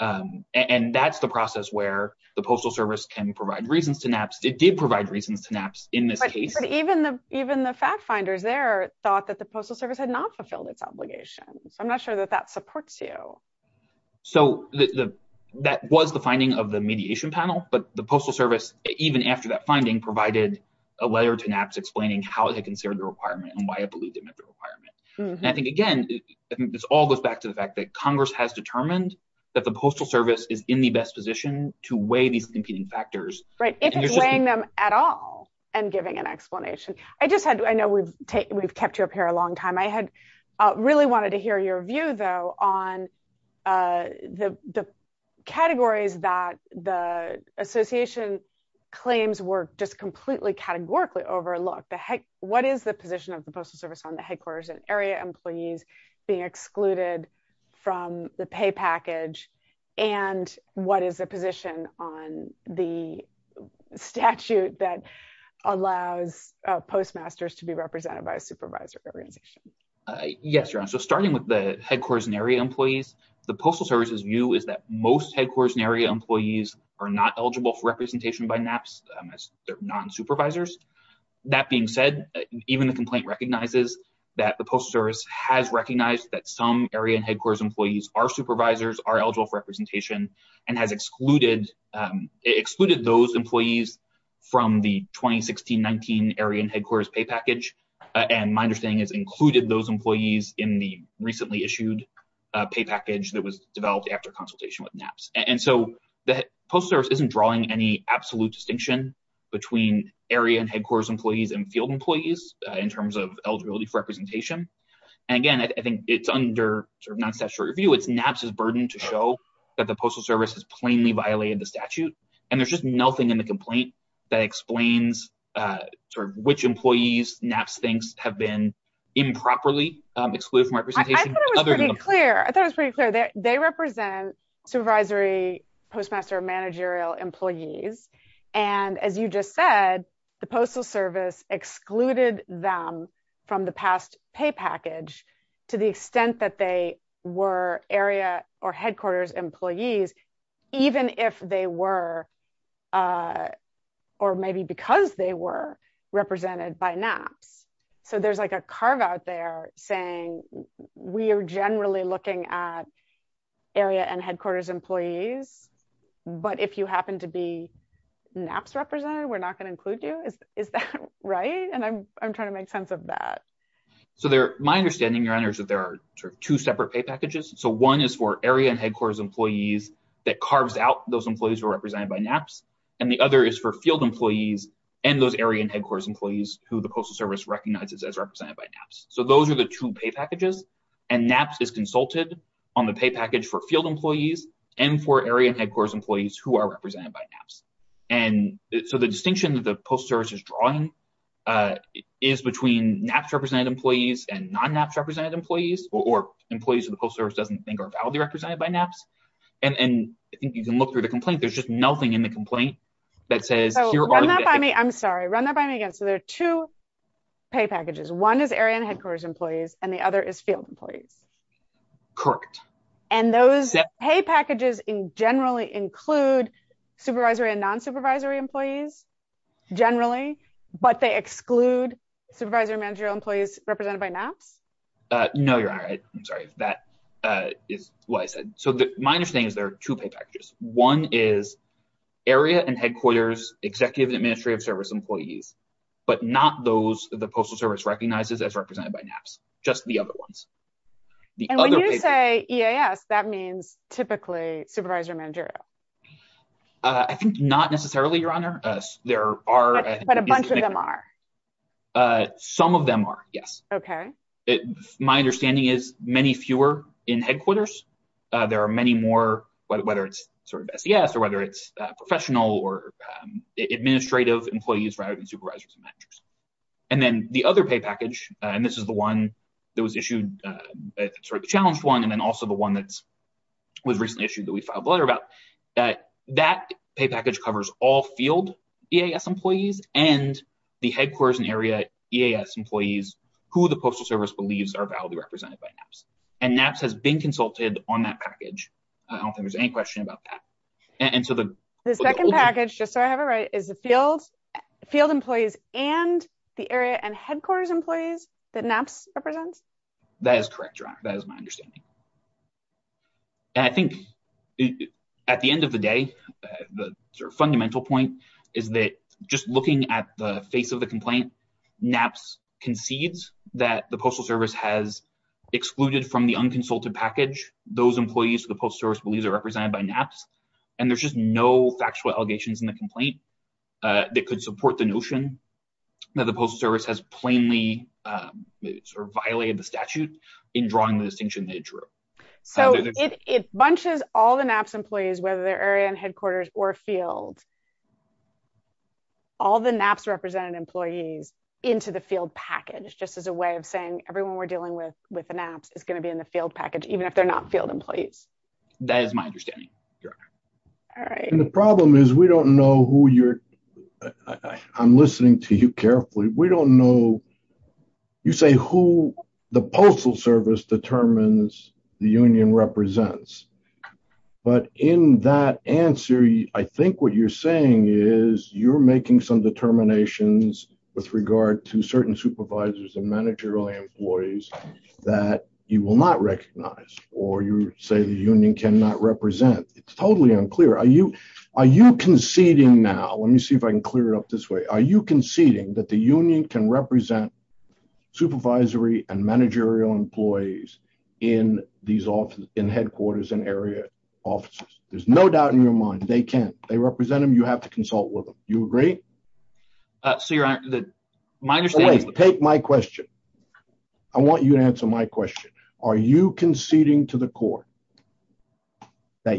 And that's the process where the Postal Service can provide reasons to NAPCS. It did provide reasons to NAPCS in this case. But even the fact finders there thought that the Postal Service had not fulfilled its obligation. I'm not sure that that supports you. So that was the finding of the mediation panel, but the Postal Service, even after that finding, provided a layer to NAPCS explaining how they considered the requirement and why I believe they met the requirement. And I think, again, this all goes back to the fact that Congress has determined that the Postal Service is in the best position to weigh these competing factors. If weighing them at all and giving an explanation. I know we've kept you up here a long time. I had really wanted to hear your view, though, on the categories that the association claims were just completely categorically overlooked. What is the position of the Postal Service on the headquarters and area employees being excluded from the pay package? And what is the position on the statute that allows postmasters to be represented by a supervisor organization? Yes, so starting with the headquarters and area employees, the Postal Service's view is that most headquarters and area employees are not eligible for representation by NAPCS. They're non-supervisors. That being said, even the complaint recognizes that the Postal Service has recognized that some area and headquarters employees are supervisors, are eligible for representation, and has excluded those employees from the 2016-19 area and headquarters pay package. And my understanding is included those employees in the recently issued pay package that was developed after consultation with NAPCS. And so the Postal Service isn't drawing any absolute distinction between area and headquarters employees and field employees in terms of eligibility for representation. And again, I think it's under non-statutory review. It's NAPCS's burden to show that the Postal Service has plainly violated the statute. And there's just nothing in the complaint that explains which employees NAPCS thinks have been improperly excluded from representation. I thought it was pretty clear. They represent supervisory postmaster managerial employees. And as you just said, the Postal Service excluded them from the past pay package to the extent that they were area or headquarters employees, even if they were, or maybe because they were, represented by NAPCS. So there's like a carve out there saying we are generally looking at area and headquarters employees, but if you happen to be NAPCS represented, we're not going to include you. Is that right? And I'm trying to make sense of that. So my understanding, Your Honor, is that there are two separate pay packages. So one is for area and headquarters employees that carves out those employees who are represented by NAPCS. And the other is for field employees and those area and headquarters employees who the Postal Service recognizes as represented by NAPCS. So those are the two pay packages. And NAPCS is consulted on the pay package for field employees and for area and headquarters employees who are represented by NAPCS. And so the distinction that the Postal Service is drawing is between NAPCS-represented employees and non-NAPCS-represented employees, or employees that the Postal Service doesn't think are validly represented by NAPCS. And you can look through the complaint. There's just nothing in the complaint that says, I'm sorry, run that by me again. So there are two pay packages. One is area and headquarters employees and the other is field employees. Correct. And those pay packages generally include supervisory and non-supervisory employees generally, but they exclude supervisory managerial employees represented by NAPCS? No, Your Honor. I'm sorry. That is what I said. So my understanding is there are two pay packages. One is area and headquarters executive and administrative service employees, but not those that the Postal Service recognizes as represented by NAPCS, just the other ones. And when you say EAS, that means typically supervisory managerial? I think not necessarily, Your Honor. But a bunch of them are? Some of them are, yes. Okay. My understanding is many fewer in headquarters. There are many more, whether it's SES or whether it's professional or administrative employees rather than supervisory managers. And then the other pay package, and this is the one that was issued, sort of the challenge one, and then also the one that was recently issued that we filed a letter about, that that pay package covers all field EAS employees and the headquarters and area EAS employees who the Postal Service believes are validly represented by NAPCS. And NAPCS has been consulted on that package. I don't think there's any question about that. The second package, just so I have it right, is the field employees and the area and headquarters employees that NAPCS represents? That is correct, Your Honor. That is my understanding. And I think at the end of the day, the sort of fundamental point is that just looking at the face of the complaint, NAPCS concedes that the Postal Service has excluded from the unconsulted package those employees that the Postal Service believes are represented by NAPCS. And there's just no actual allegations in the complaint that could support the notion that the Postal Service has plainly violated the statute in drawing the distinction they drew. So it bunches all the NAPCS employees, whether they're area and headquarters or field, all the NAPCS represented employees into the field package, just as a way of saying everyone we're dealing with with the NAPCS is going to be in the field package, even if they're not field employees. That is my understanding, Your Honor. And the problem is we don't know who you're... I'm listening to you carefully. We don't know, you say, who the Postal Service determines the union represents. But in that answer, I think what you're saying is you're making some determinations with regard to certain supervisors and managerial employees that you will not recognize or you say the union cannot represent. It's totally unclear. Are you conceding now? Let me see if I can clear it up this way. Are you conceding that the union can represent supervisory and managerial employees in headquarters and area offices? There's no doubt in your mind they can. They represent them. You have to consult with them. You agree? So Your Honor, my understanding...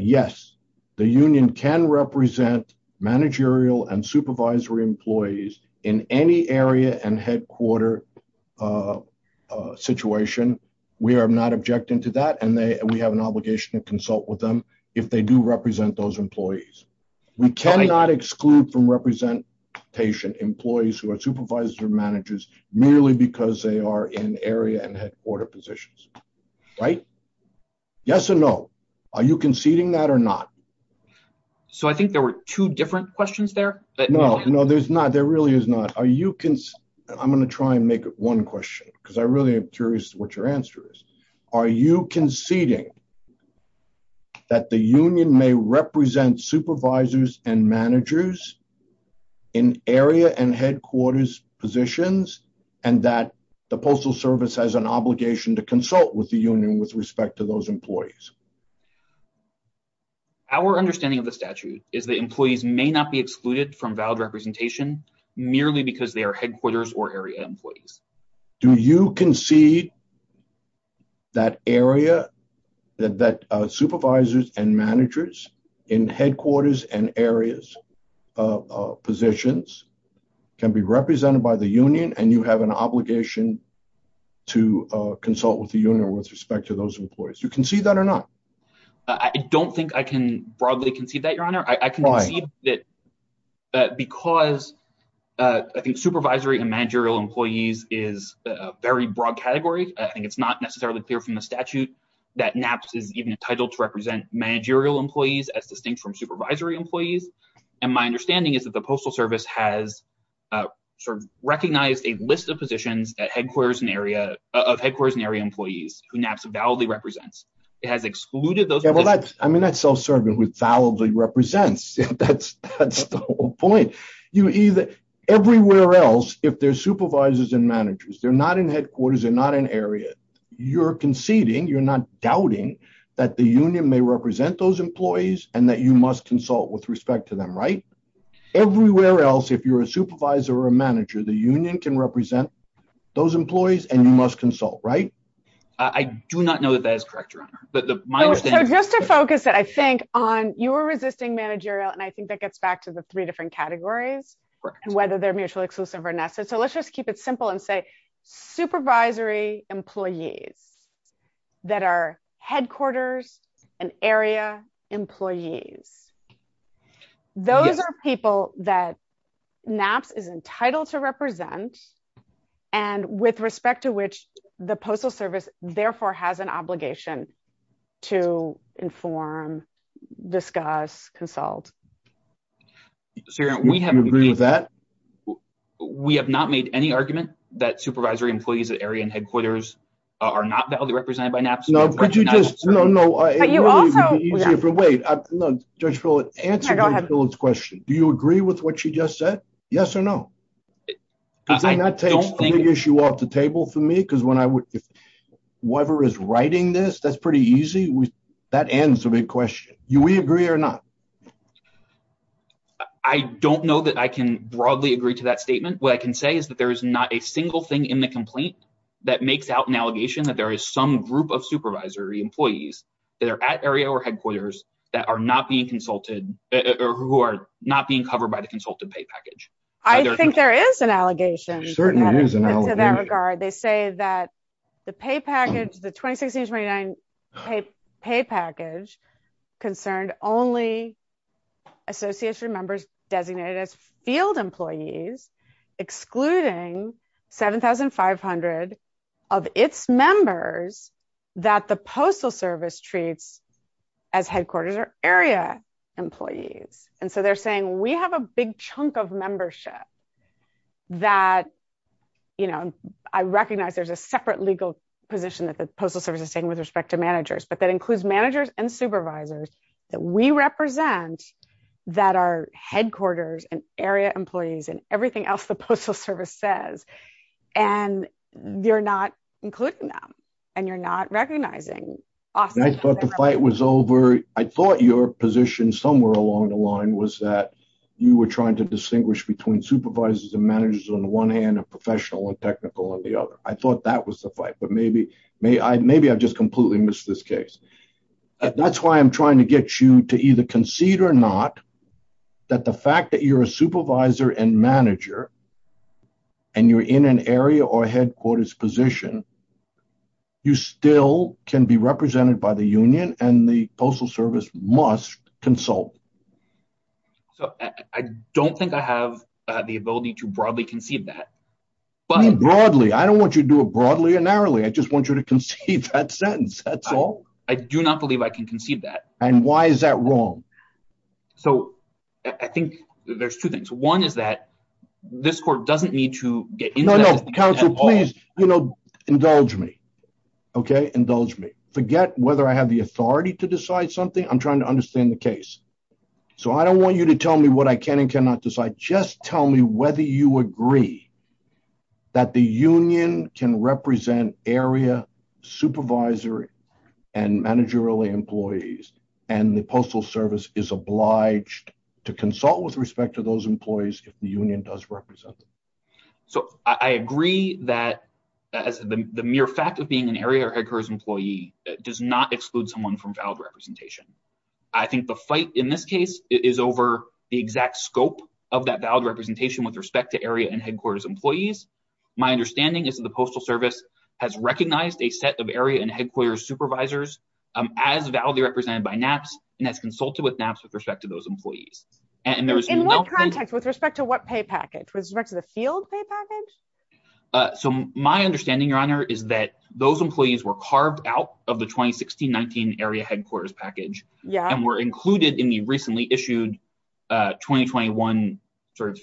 Yes, the union can represent managerial and supervisory employees in any area and headquarter situation. We are not objecting to that, and we have an obligation to consult with them if they do represent those employees. We cannot exclude from representation employees who are supervisor managers merely because they are in area and headquarter positions. Right? Yes or no? Are you conceding that or not? So I think there were two different questions there. No, there's not. There really is not. I'm going to try and make one question because I really am curious what your answer is. Are you conceding that the union may represent supervisors and managers in area and headquarters positions and that the Postal Service has an obligation to consult with the union with respect to those employees? Our understanding of the statute is that employees may not be excluded from valid representation merely because they are headquarters or area employees. Do you concede that supervisors and managers in headquarters and area positions can be represented by the union and you have an obligation to consult with the union with respect to those employees? Do you concede that or not? I don't think I can broadly concede that, Your Honor. Why? Because I think supervisory and managerial employees is a very broad category, and it's not necessarily clear from the statute that NAPCS is even entitled to represent managerial employees as distinct from supervisory employees. And my understanding is that the Postal Service has recognized a list of positions of headquarters and area employees who NAPCS validly represents. It has excluded those positions. I mean, that's self-serving with validly represents. That's the whole point. Everywhere else, if they're supervisors and managers, they're not in headquarters, they're not in area, you're conceding, you're not doubting that the union may represent those employees and that you must consult with respect to them, right? Everywhere else, if you're a supervisor or a manager, the union can represent those employees and you must consult, right? I do not know that that is correct, Your Honor. Just to focus it, I think, on you were resisting managerial, and I think that gets back to the three different categories and whether they're mutually exclusive or not. So let's just keep it simple and say supervisory employees that are headquarters and area employees. Those are people that NAPCS is entitled to represent and with respect to which the Postal Service, therefore, has an obligation to inform, discuss, consult. We have not made any argument that supervisory employees at area and headquarters are not validly represented by NAPCS. No, but you just, no, no, wait, Judge Fuller, answer Judge Fuller's question. Do you agree with what she just said? Yes or no? Does that take the issue off the table for me? Because when I would, if Weber is writing this, that's pretty easy. That ends the big question. Do we agree or not? I don't know that I can broadly agree to that statement. What I can say is that there is not a single thing in the complaint that makes out an allegation that there is some group of supervisory employees that are at area or headquarters that are not being consulted or who are not being covered by the consulted pay package. I think there is an allegation in that regard. They say that the pay package, the 2016-2019 pay package concerned only association members designated as field employees, excluding 7,500 of its members that the Postal Service treats as headquarters or area employees. And so they're saying we have a big chunk of membership that, you know, I recognize there's a separate legal position that the Postal Service is saying with respect to managers, but that includes managers and supervisors that we represent that are headquarters and area employees and everything else the Postal Service says. And you're not including them and you're not recognizing. I thought the fight was over. I thought your position somewhere along the line was that you were trying to distinguish between supervisors and managers on one hand and professional and technical on the other. I thought that was the fight, but maybe I just completely missed this case. That's why I'm trying to get you to either concede or not that the fact that you're a supervisor and manager and you're in an area or headquarters position, you still can be represented by the union and the Postal Service must consult. So I don't think I have the ability to broadly concede that. Broadly? I don't want you to do it broadly or narrowly. I just want you to concede that sentence. That's all. I do not believe I can concede that. And why is that wrong? So I think there's two things. One is that this court doesn't need to get involved. Indulge me, okay? Indulge me. Forget whether I have the authority to decide something. I'm trying to understand the case. So I don't want you to tell me what I can and cannot decide. Just tell me whether you agree that the union can represent area supervisor and managerial employees and the Postal Service is obliged to consult with respect to those employees if the union does represent them. So I agree that the mere fact of being an area or headquarters employee does not exclude someone from valid representation. I think the fight in this case is over the exact scope of that valid representation with respect to area and headquarters employees. My understanding is that the Postal Service has recognized a set of area and headquarters supervisors as validly represented by NAPCS and has consulted with NAPCS with respect to those employees. In what context? With respect to what pay package? With respect to the field pay package? So my understanding, Your Honor, is that those employees were carved out of the 2016-19 area headquarters package and were included in the recently issued 2021, I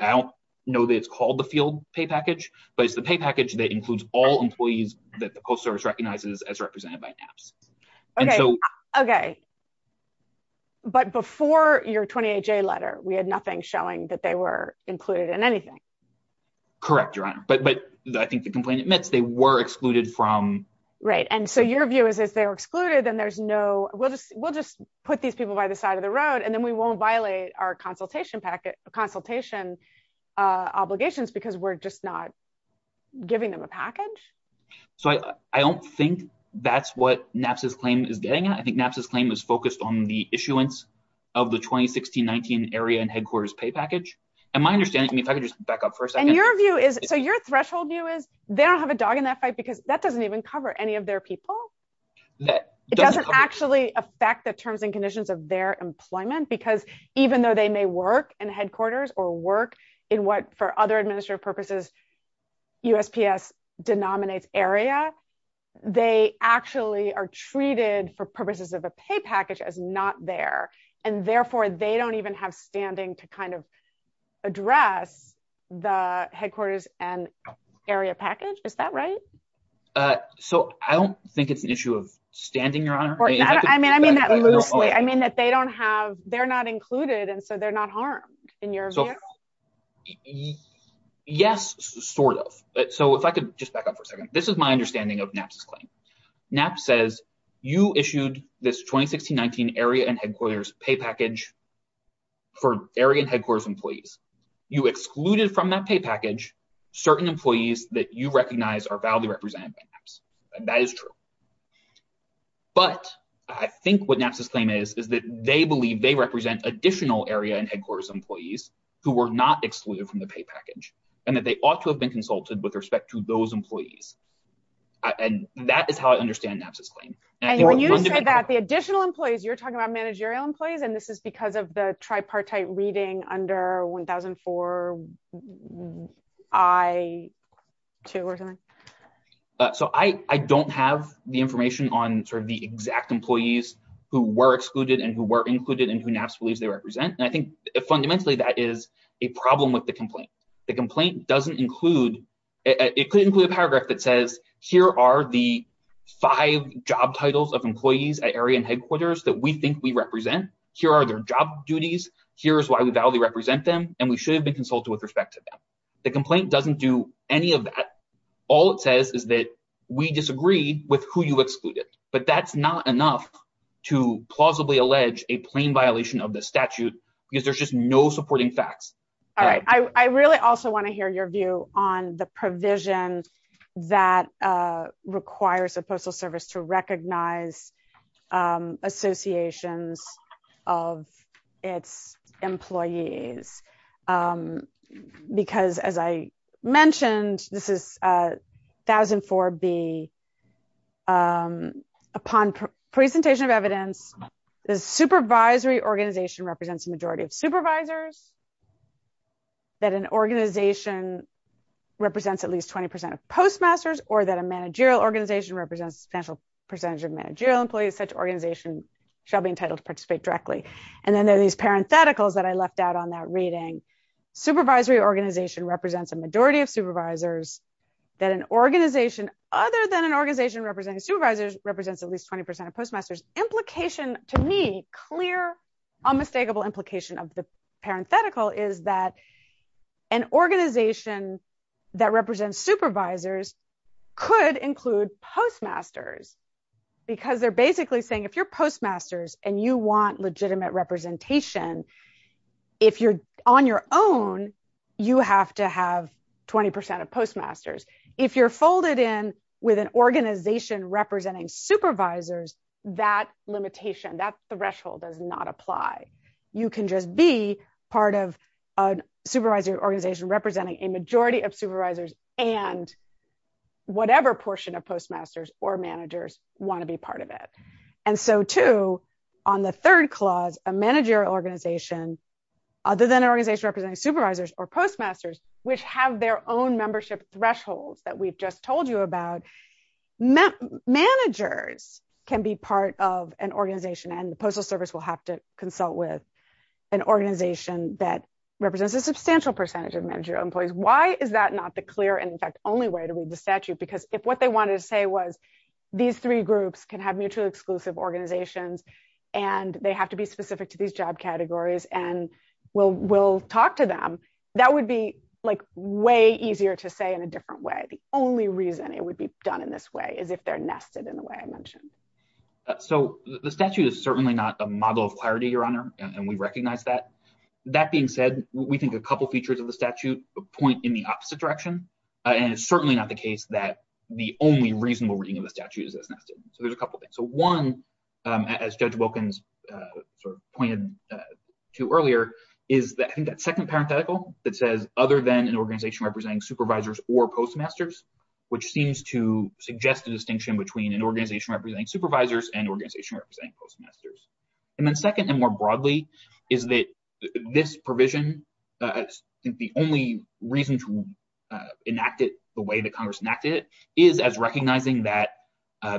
don't know that it's called the field pay package, but it's the pay package that includes all employees that the Postal Service recognizes as represented by NAPCS. Okay. But before your 28-J letter, we had nothing showing that they were included in anything. Correct, Your Honor. But I think the complaint admits they were excluded from... Right. And so your view is if they were excluded, then there's no... We'll just put these people by the side of the road and then we won't violate our consultation obligations because we're just not giving them a package? So I don't think that's what NAPCS' claim is getting at. I think NAPCS' claim is focused on the issuance of the 2016-19 area and headquarters pay package. And my understanding, if I could just back up for a second... And your view is, so your threshold view is they don't have a dog in that fight because that doesn't even cover any of their people. It doesn't actually affect the terms and conditions of their employment because even though they may work in headquarters or work in what, for other administrative purposes, USPS denominates area, they actually are treated for purposes of a pay package as not there. And therefore, they don't even have standing to kind of address the headquarters and area package. Is that right? So I don't think it's an issue of standing, Your Honor. I mean that loosely. I mean that they don't have... They're not included and so they're not harmed in your view. Yes, sort of. So if I could just back up for a second. This is my understanding of NAPCS' claim. NAPCS says you issued this 2016-19 area and headquarters pay package for area headquarters employees. You excluded from that pay package certain employees that you recognize are validly represented by NAPCS. And that is true. But I think what NAPCS' claim is, is that they believe they represent additional area and headquarters employees who were not excluded from the pay package and that they ought to have been consulted with respect to those employees. And that is how I understand NAPCS' claim. And when you say that the additional employees, you're talking about managerial employees and this is because of the tripartite reading under 1004-I-2 or something? So I don't have the information on sort of the exact employees who were excluded and who were included and who NAPCS believes they represent. And I think fundamentally that is a problem with the complaint. The complaint doesn't include... It could include a paragraph that says, here are the five job titles of employees at area and headquarters that we think we represent. Here are their job duties. Here is why we validly represent them and we should have been consulted with respect to them. The complaint doesn't do any of that. All it says is that we disagree with who you excluded. But that's not enough to plausibly allege a plain violation of the statute because there's just no supporting facts. I really also want to hear your view on the provision that requires the Postal Service to recognize associations of its employees. Because as I mentioned, this is 1004-B. Upon presentation of evidence, the supervisory organization represents a majority of supervisors. That an organization represents at least 20% of postmasters or that a managerial organization represents a substantial percentage of managerial employees, such organizations shall be entitled to participate directly. And then there are these parentheticals that I left out on that reading. Supervisory organization represents a majority of supervisors. That an organization, other than an organization representing supervisors, represents at least 20% of postmasters. Implication to me, clear, unmistakable implication of the parenthetical is that an organization that represents supervisors could include postmasters. Because they're basically saying if you're postmasters and you want legitimate representation, if you're on your own, you have to have 20% of postmasters. If you're folded in with an organization representing supervisors, that limitation, that threshold does not apply. You can just be part of a supervisory organization representing a majority of supervisors and whatever portion of postmasters or managers want to be part of it. And so, too, on the third clause, a managerial organization, other than an organization representing supervisors or postmasters, which have their own membership thresholds that we just told you about, managers can be part of an organization and the Postal Service will have to consult with an organization that represents a substantial percentage of managerial employees. Why is that not the clear and, in fact, only way to read the statute? Because if what they wanted to say was these three groups can have mutually exclusive organizations and they have to be specific to these job categories and we'll talk to them, that would be way easier to say in a different way. The only reason it would be done in this way is if they're nested in the way I mentioned. So the statute is certainly not the model of clarity, Your Honor, and we recognize that. That being said, we think a couple features of the statute point in the opposite direction, and it's certainly not the case that the only reasonable reading of the statute is that it's nested. So there's a couple things. So one, as Judge Wilkins pointed to earlier, is that second parenthetical that says, other than an organization representing supervisors or postmasters, which seems to suggest a distinction between an organization representing supervisors and an organization representing postmasters. And then second, and more broadly, is that this provision is the only reason to enact it the way that Congress enacteded it, is as recognizing that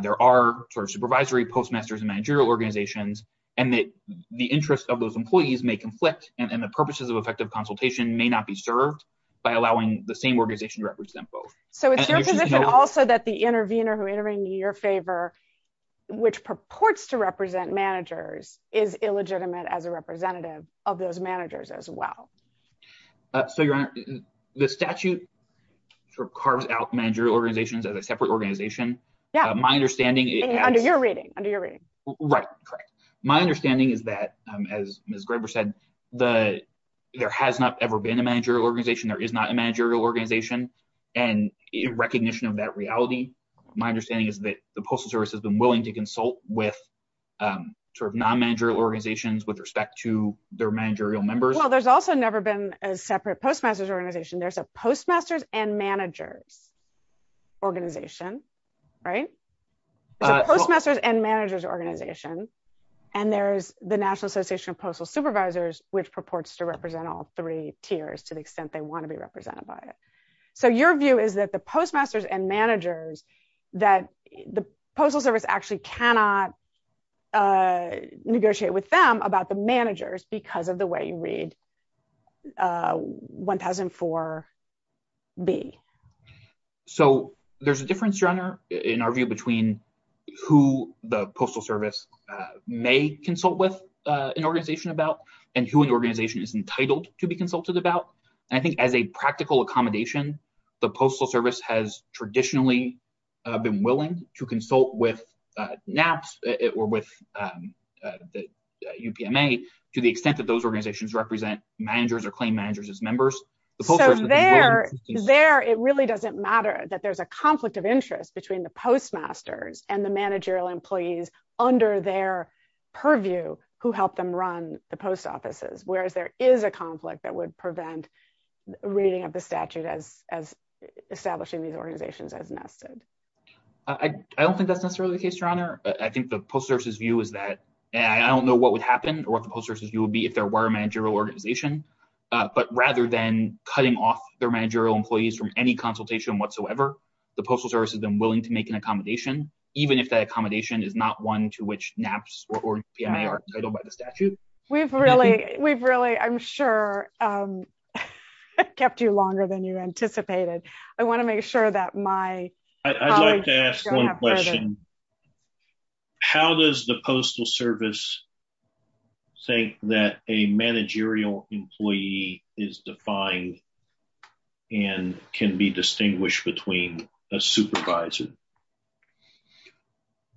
there are sort of supervisory, postmasters, and managerial organizations and that the interests of those employees may conflict and the purposes of effective consultation may not be served by allowing the same organization to represent both. So it's your position also that the intervener who intervened in your favor, which purports to represent managers, is illegitimate as a representative of those managers as well. So, Your Honor, the statute sort of carves out managerial organizations as a separate organization. Yeah. And under your reading. Right. My understanding is that, as Ms. Graber said, there has not ever been a managerial organization. There is not a managerial organization. And in recognition of that reality, my understanding is that the Postal Service has been willing to consult with sort of non-managerial organizations with respect to their managerial members. Well, there's also never been a separate postmasters organization. There's a postmasters and managers organization. Right? There's a postmasters and managers organization. And there's the National Association of Postal Supervisors, which purports to represent all three tiers to the extent they want to be represented by it. So your view is that the postmasters and managers, that the Postal Service actually cannot negotiate with them about the managers because of the way you read 1004B. So there's a difference, Your Honor, in our view between who the Postal Service may consult with an organization about and who an organization is entitled to be consulted about. And I think as a practical accommodation, the Postal Service has traditionally been willing to consult with NAPS or with UPMA to the extent that those organizations represent managers or claim managers as members. So there, it really doesn't matter that there's a conflict of interest between the postmasters and the managerial employees under their purview who helped them run the post offices, whereas there is a conflict that would prevent reading of the statute as establishing these organizations as NAPS did. I don't think that's necessarily the case, Your Honor. I think the Postal Service's view is that, and I don't know what would happen or what the Postal Service's view would be if there were a managerial organization, but rather than cutting off their managerial employees from any consultation whatsoever, the Postal Service has been willing to make an accommodation, even if that accommodation is not one to which NAPS or UPMA are entitled by the statute. We've really, we've really, I'm sure, kept you longer than you anticipated. I want to make sure that my... I'd like to ask one question. How does the Postal Service think that a managerial employee is defined and can be distinguished between a supervisor?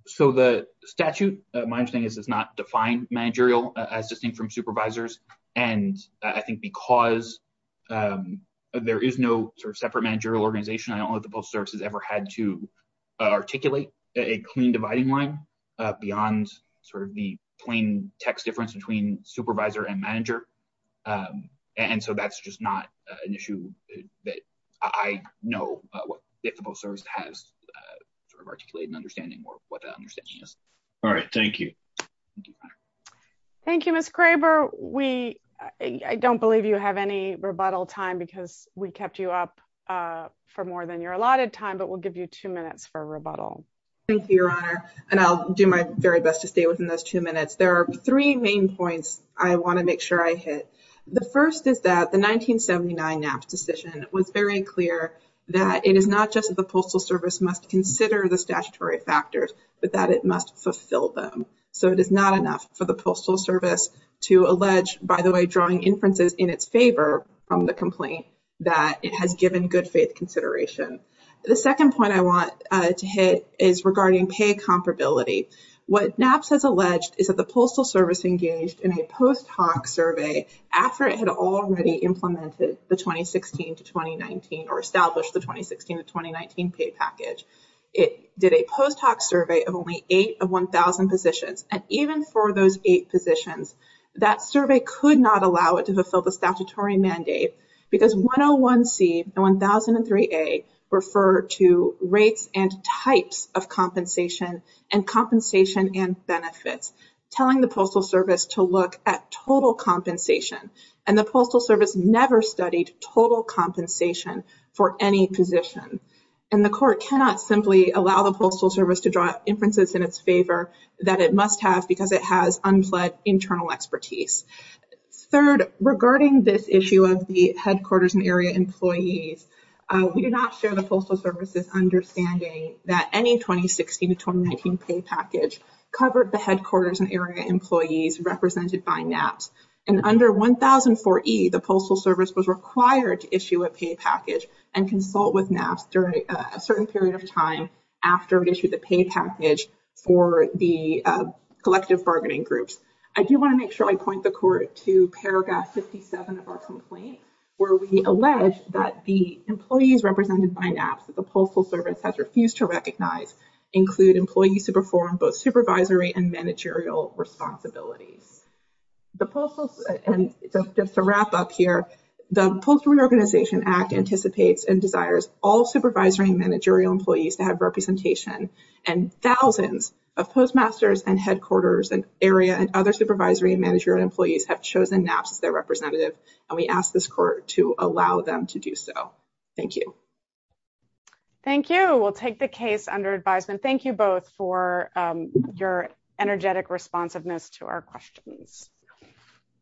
So the statute, my understanding is, does not define managerial as distinct from supervisors. And I think because there is no sort of separate managerial organization, I don't know if the Postal Service has ever had to articulate a clean dividing line beyond sort of the plain text difference between supervisor and manager. And so that's just not an issue that I know what the Postal Service has articulated in understanding what that understanding is. All right. Thank you. Thank you, Ms. Kraber. We, I don't believe you have any rebuttal time because we kept you up for more than your allotted time, but we'll give you two minutes for rebuttal. Thank you, Your Honor. And I'll do my very best to stay within those two minutes. There are three main points I want to make sure I hit. The first is that the 1979 NAPS decision was very clear that it is not just that the Postal Service must consider the statutory factors, but that it must fulfill them. So it is not enough for the Postal Service to allege, by the way, drawing inferences in its favor from the complaint, that it has given good faith consideration. The second point I want to hit is regarding pay comparability. What NAPS has alleged is that the Postal Service engaged in a post hoc survey after it had already implemented the 2016-2019 or established the 2016-2019 pay package. It did a post hoc survey of only eight of 1,000 positions. And even for those eight positions, that survey could not allow it to fulfill the statutory mandate because 101C and 1003A refer to rates and types of compensation and compensation and benefits, telling the Postal Service to look at total compensation. And the Postal Service never studied total compensation for any position. And the court cannot simply allow the Postal Service to draw inferences in its favor that it must have because it has unfled internal expertise. Third, regarding this issue of the headquarters and area employees, we do not share the Postal Service's understanding that any 2016-2019 pay package covered the headquarters and area employees represented by NAPS. And under 1004E, the Postal Service was required to issue a pay package and consult with NAPS during a certain period of time after it issued the pay package for the collective bargaining groups. I do want to make sure I point the court to paragraph 57 of our complaint, where we allege that the employees represented by NAPS that the Postal Service has refused to recognize include employees who perform both supervisory and managerial responsibilities. And just to wrap up here, the Postal Reorganization Act anticipates and desires all supervisory and managerial employees to have representation, and thousands of postmasters and headquarters and area and other supervisory and managerial employees have chosen NAPS as their representative, and we ask this court to allow them to do so. Thank you. Thank you. We'll take the case under advisement. Thank you both for your energetic responsiveness to our questions.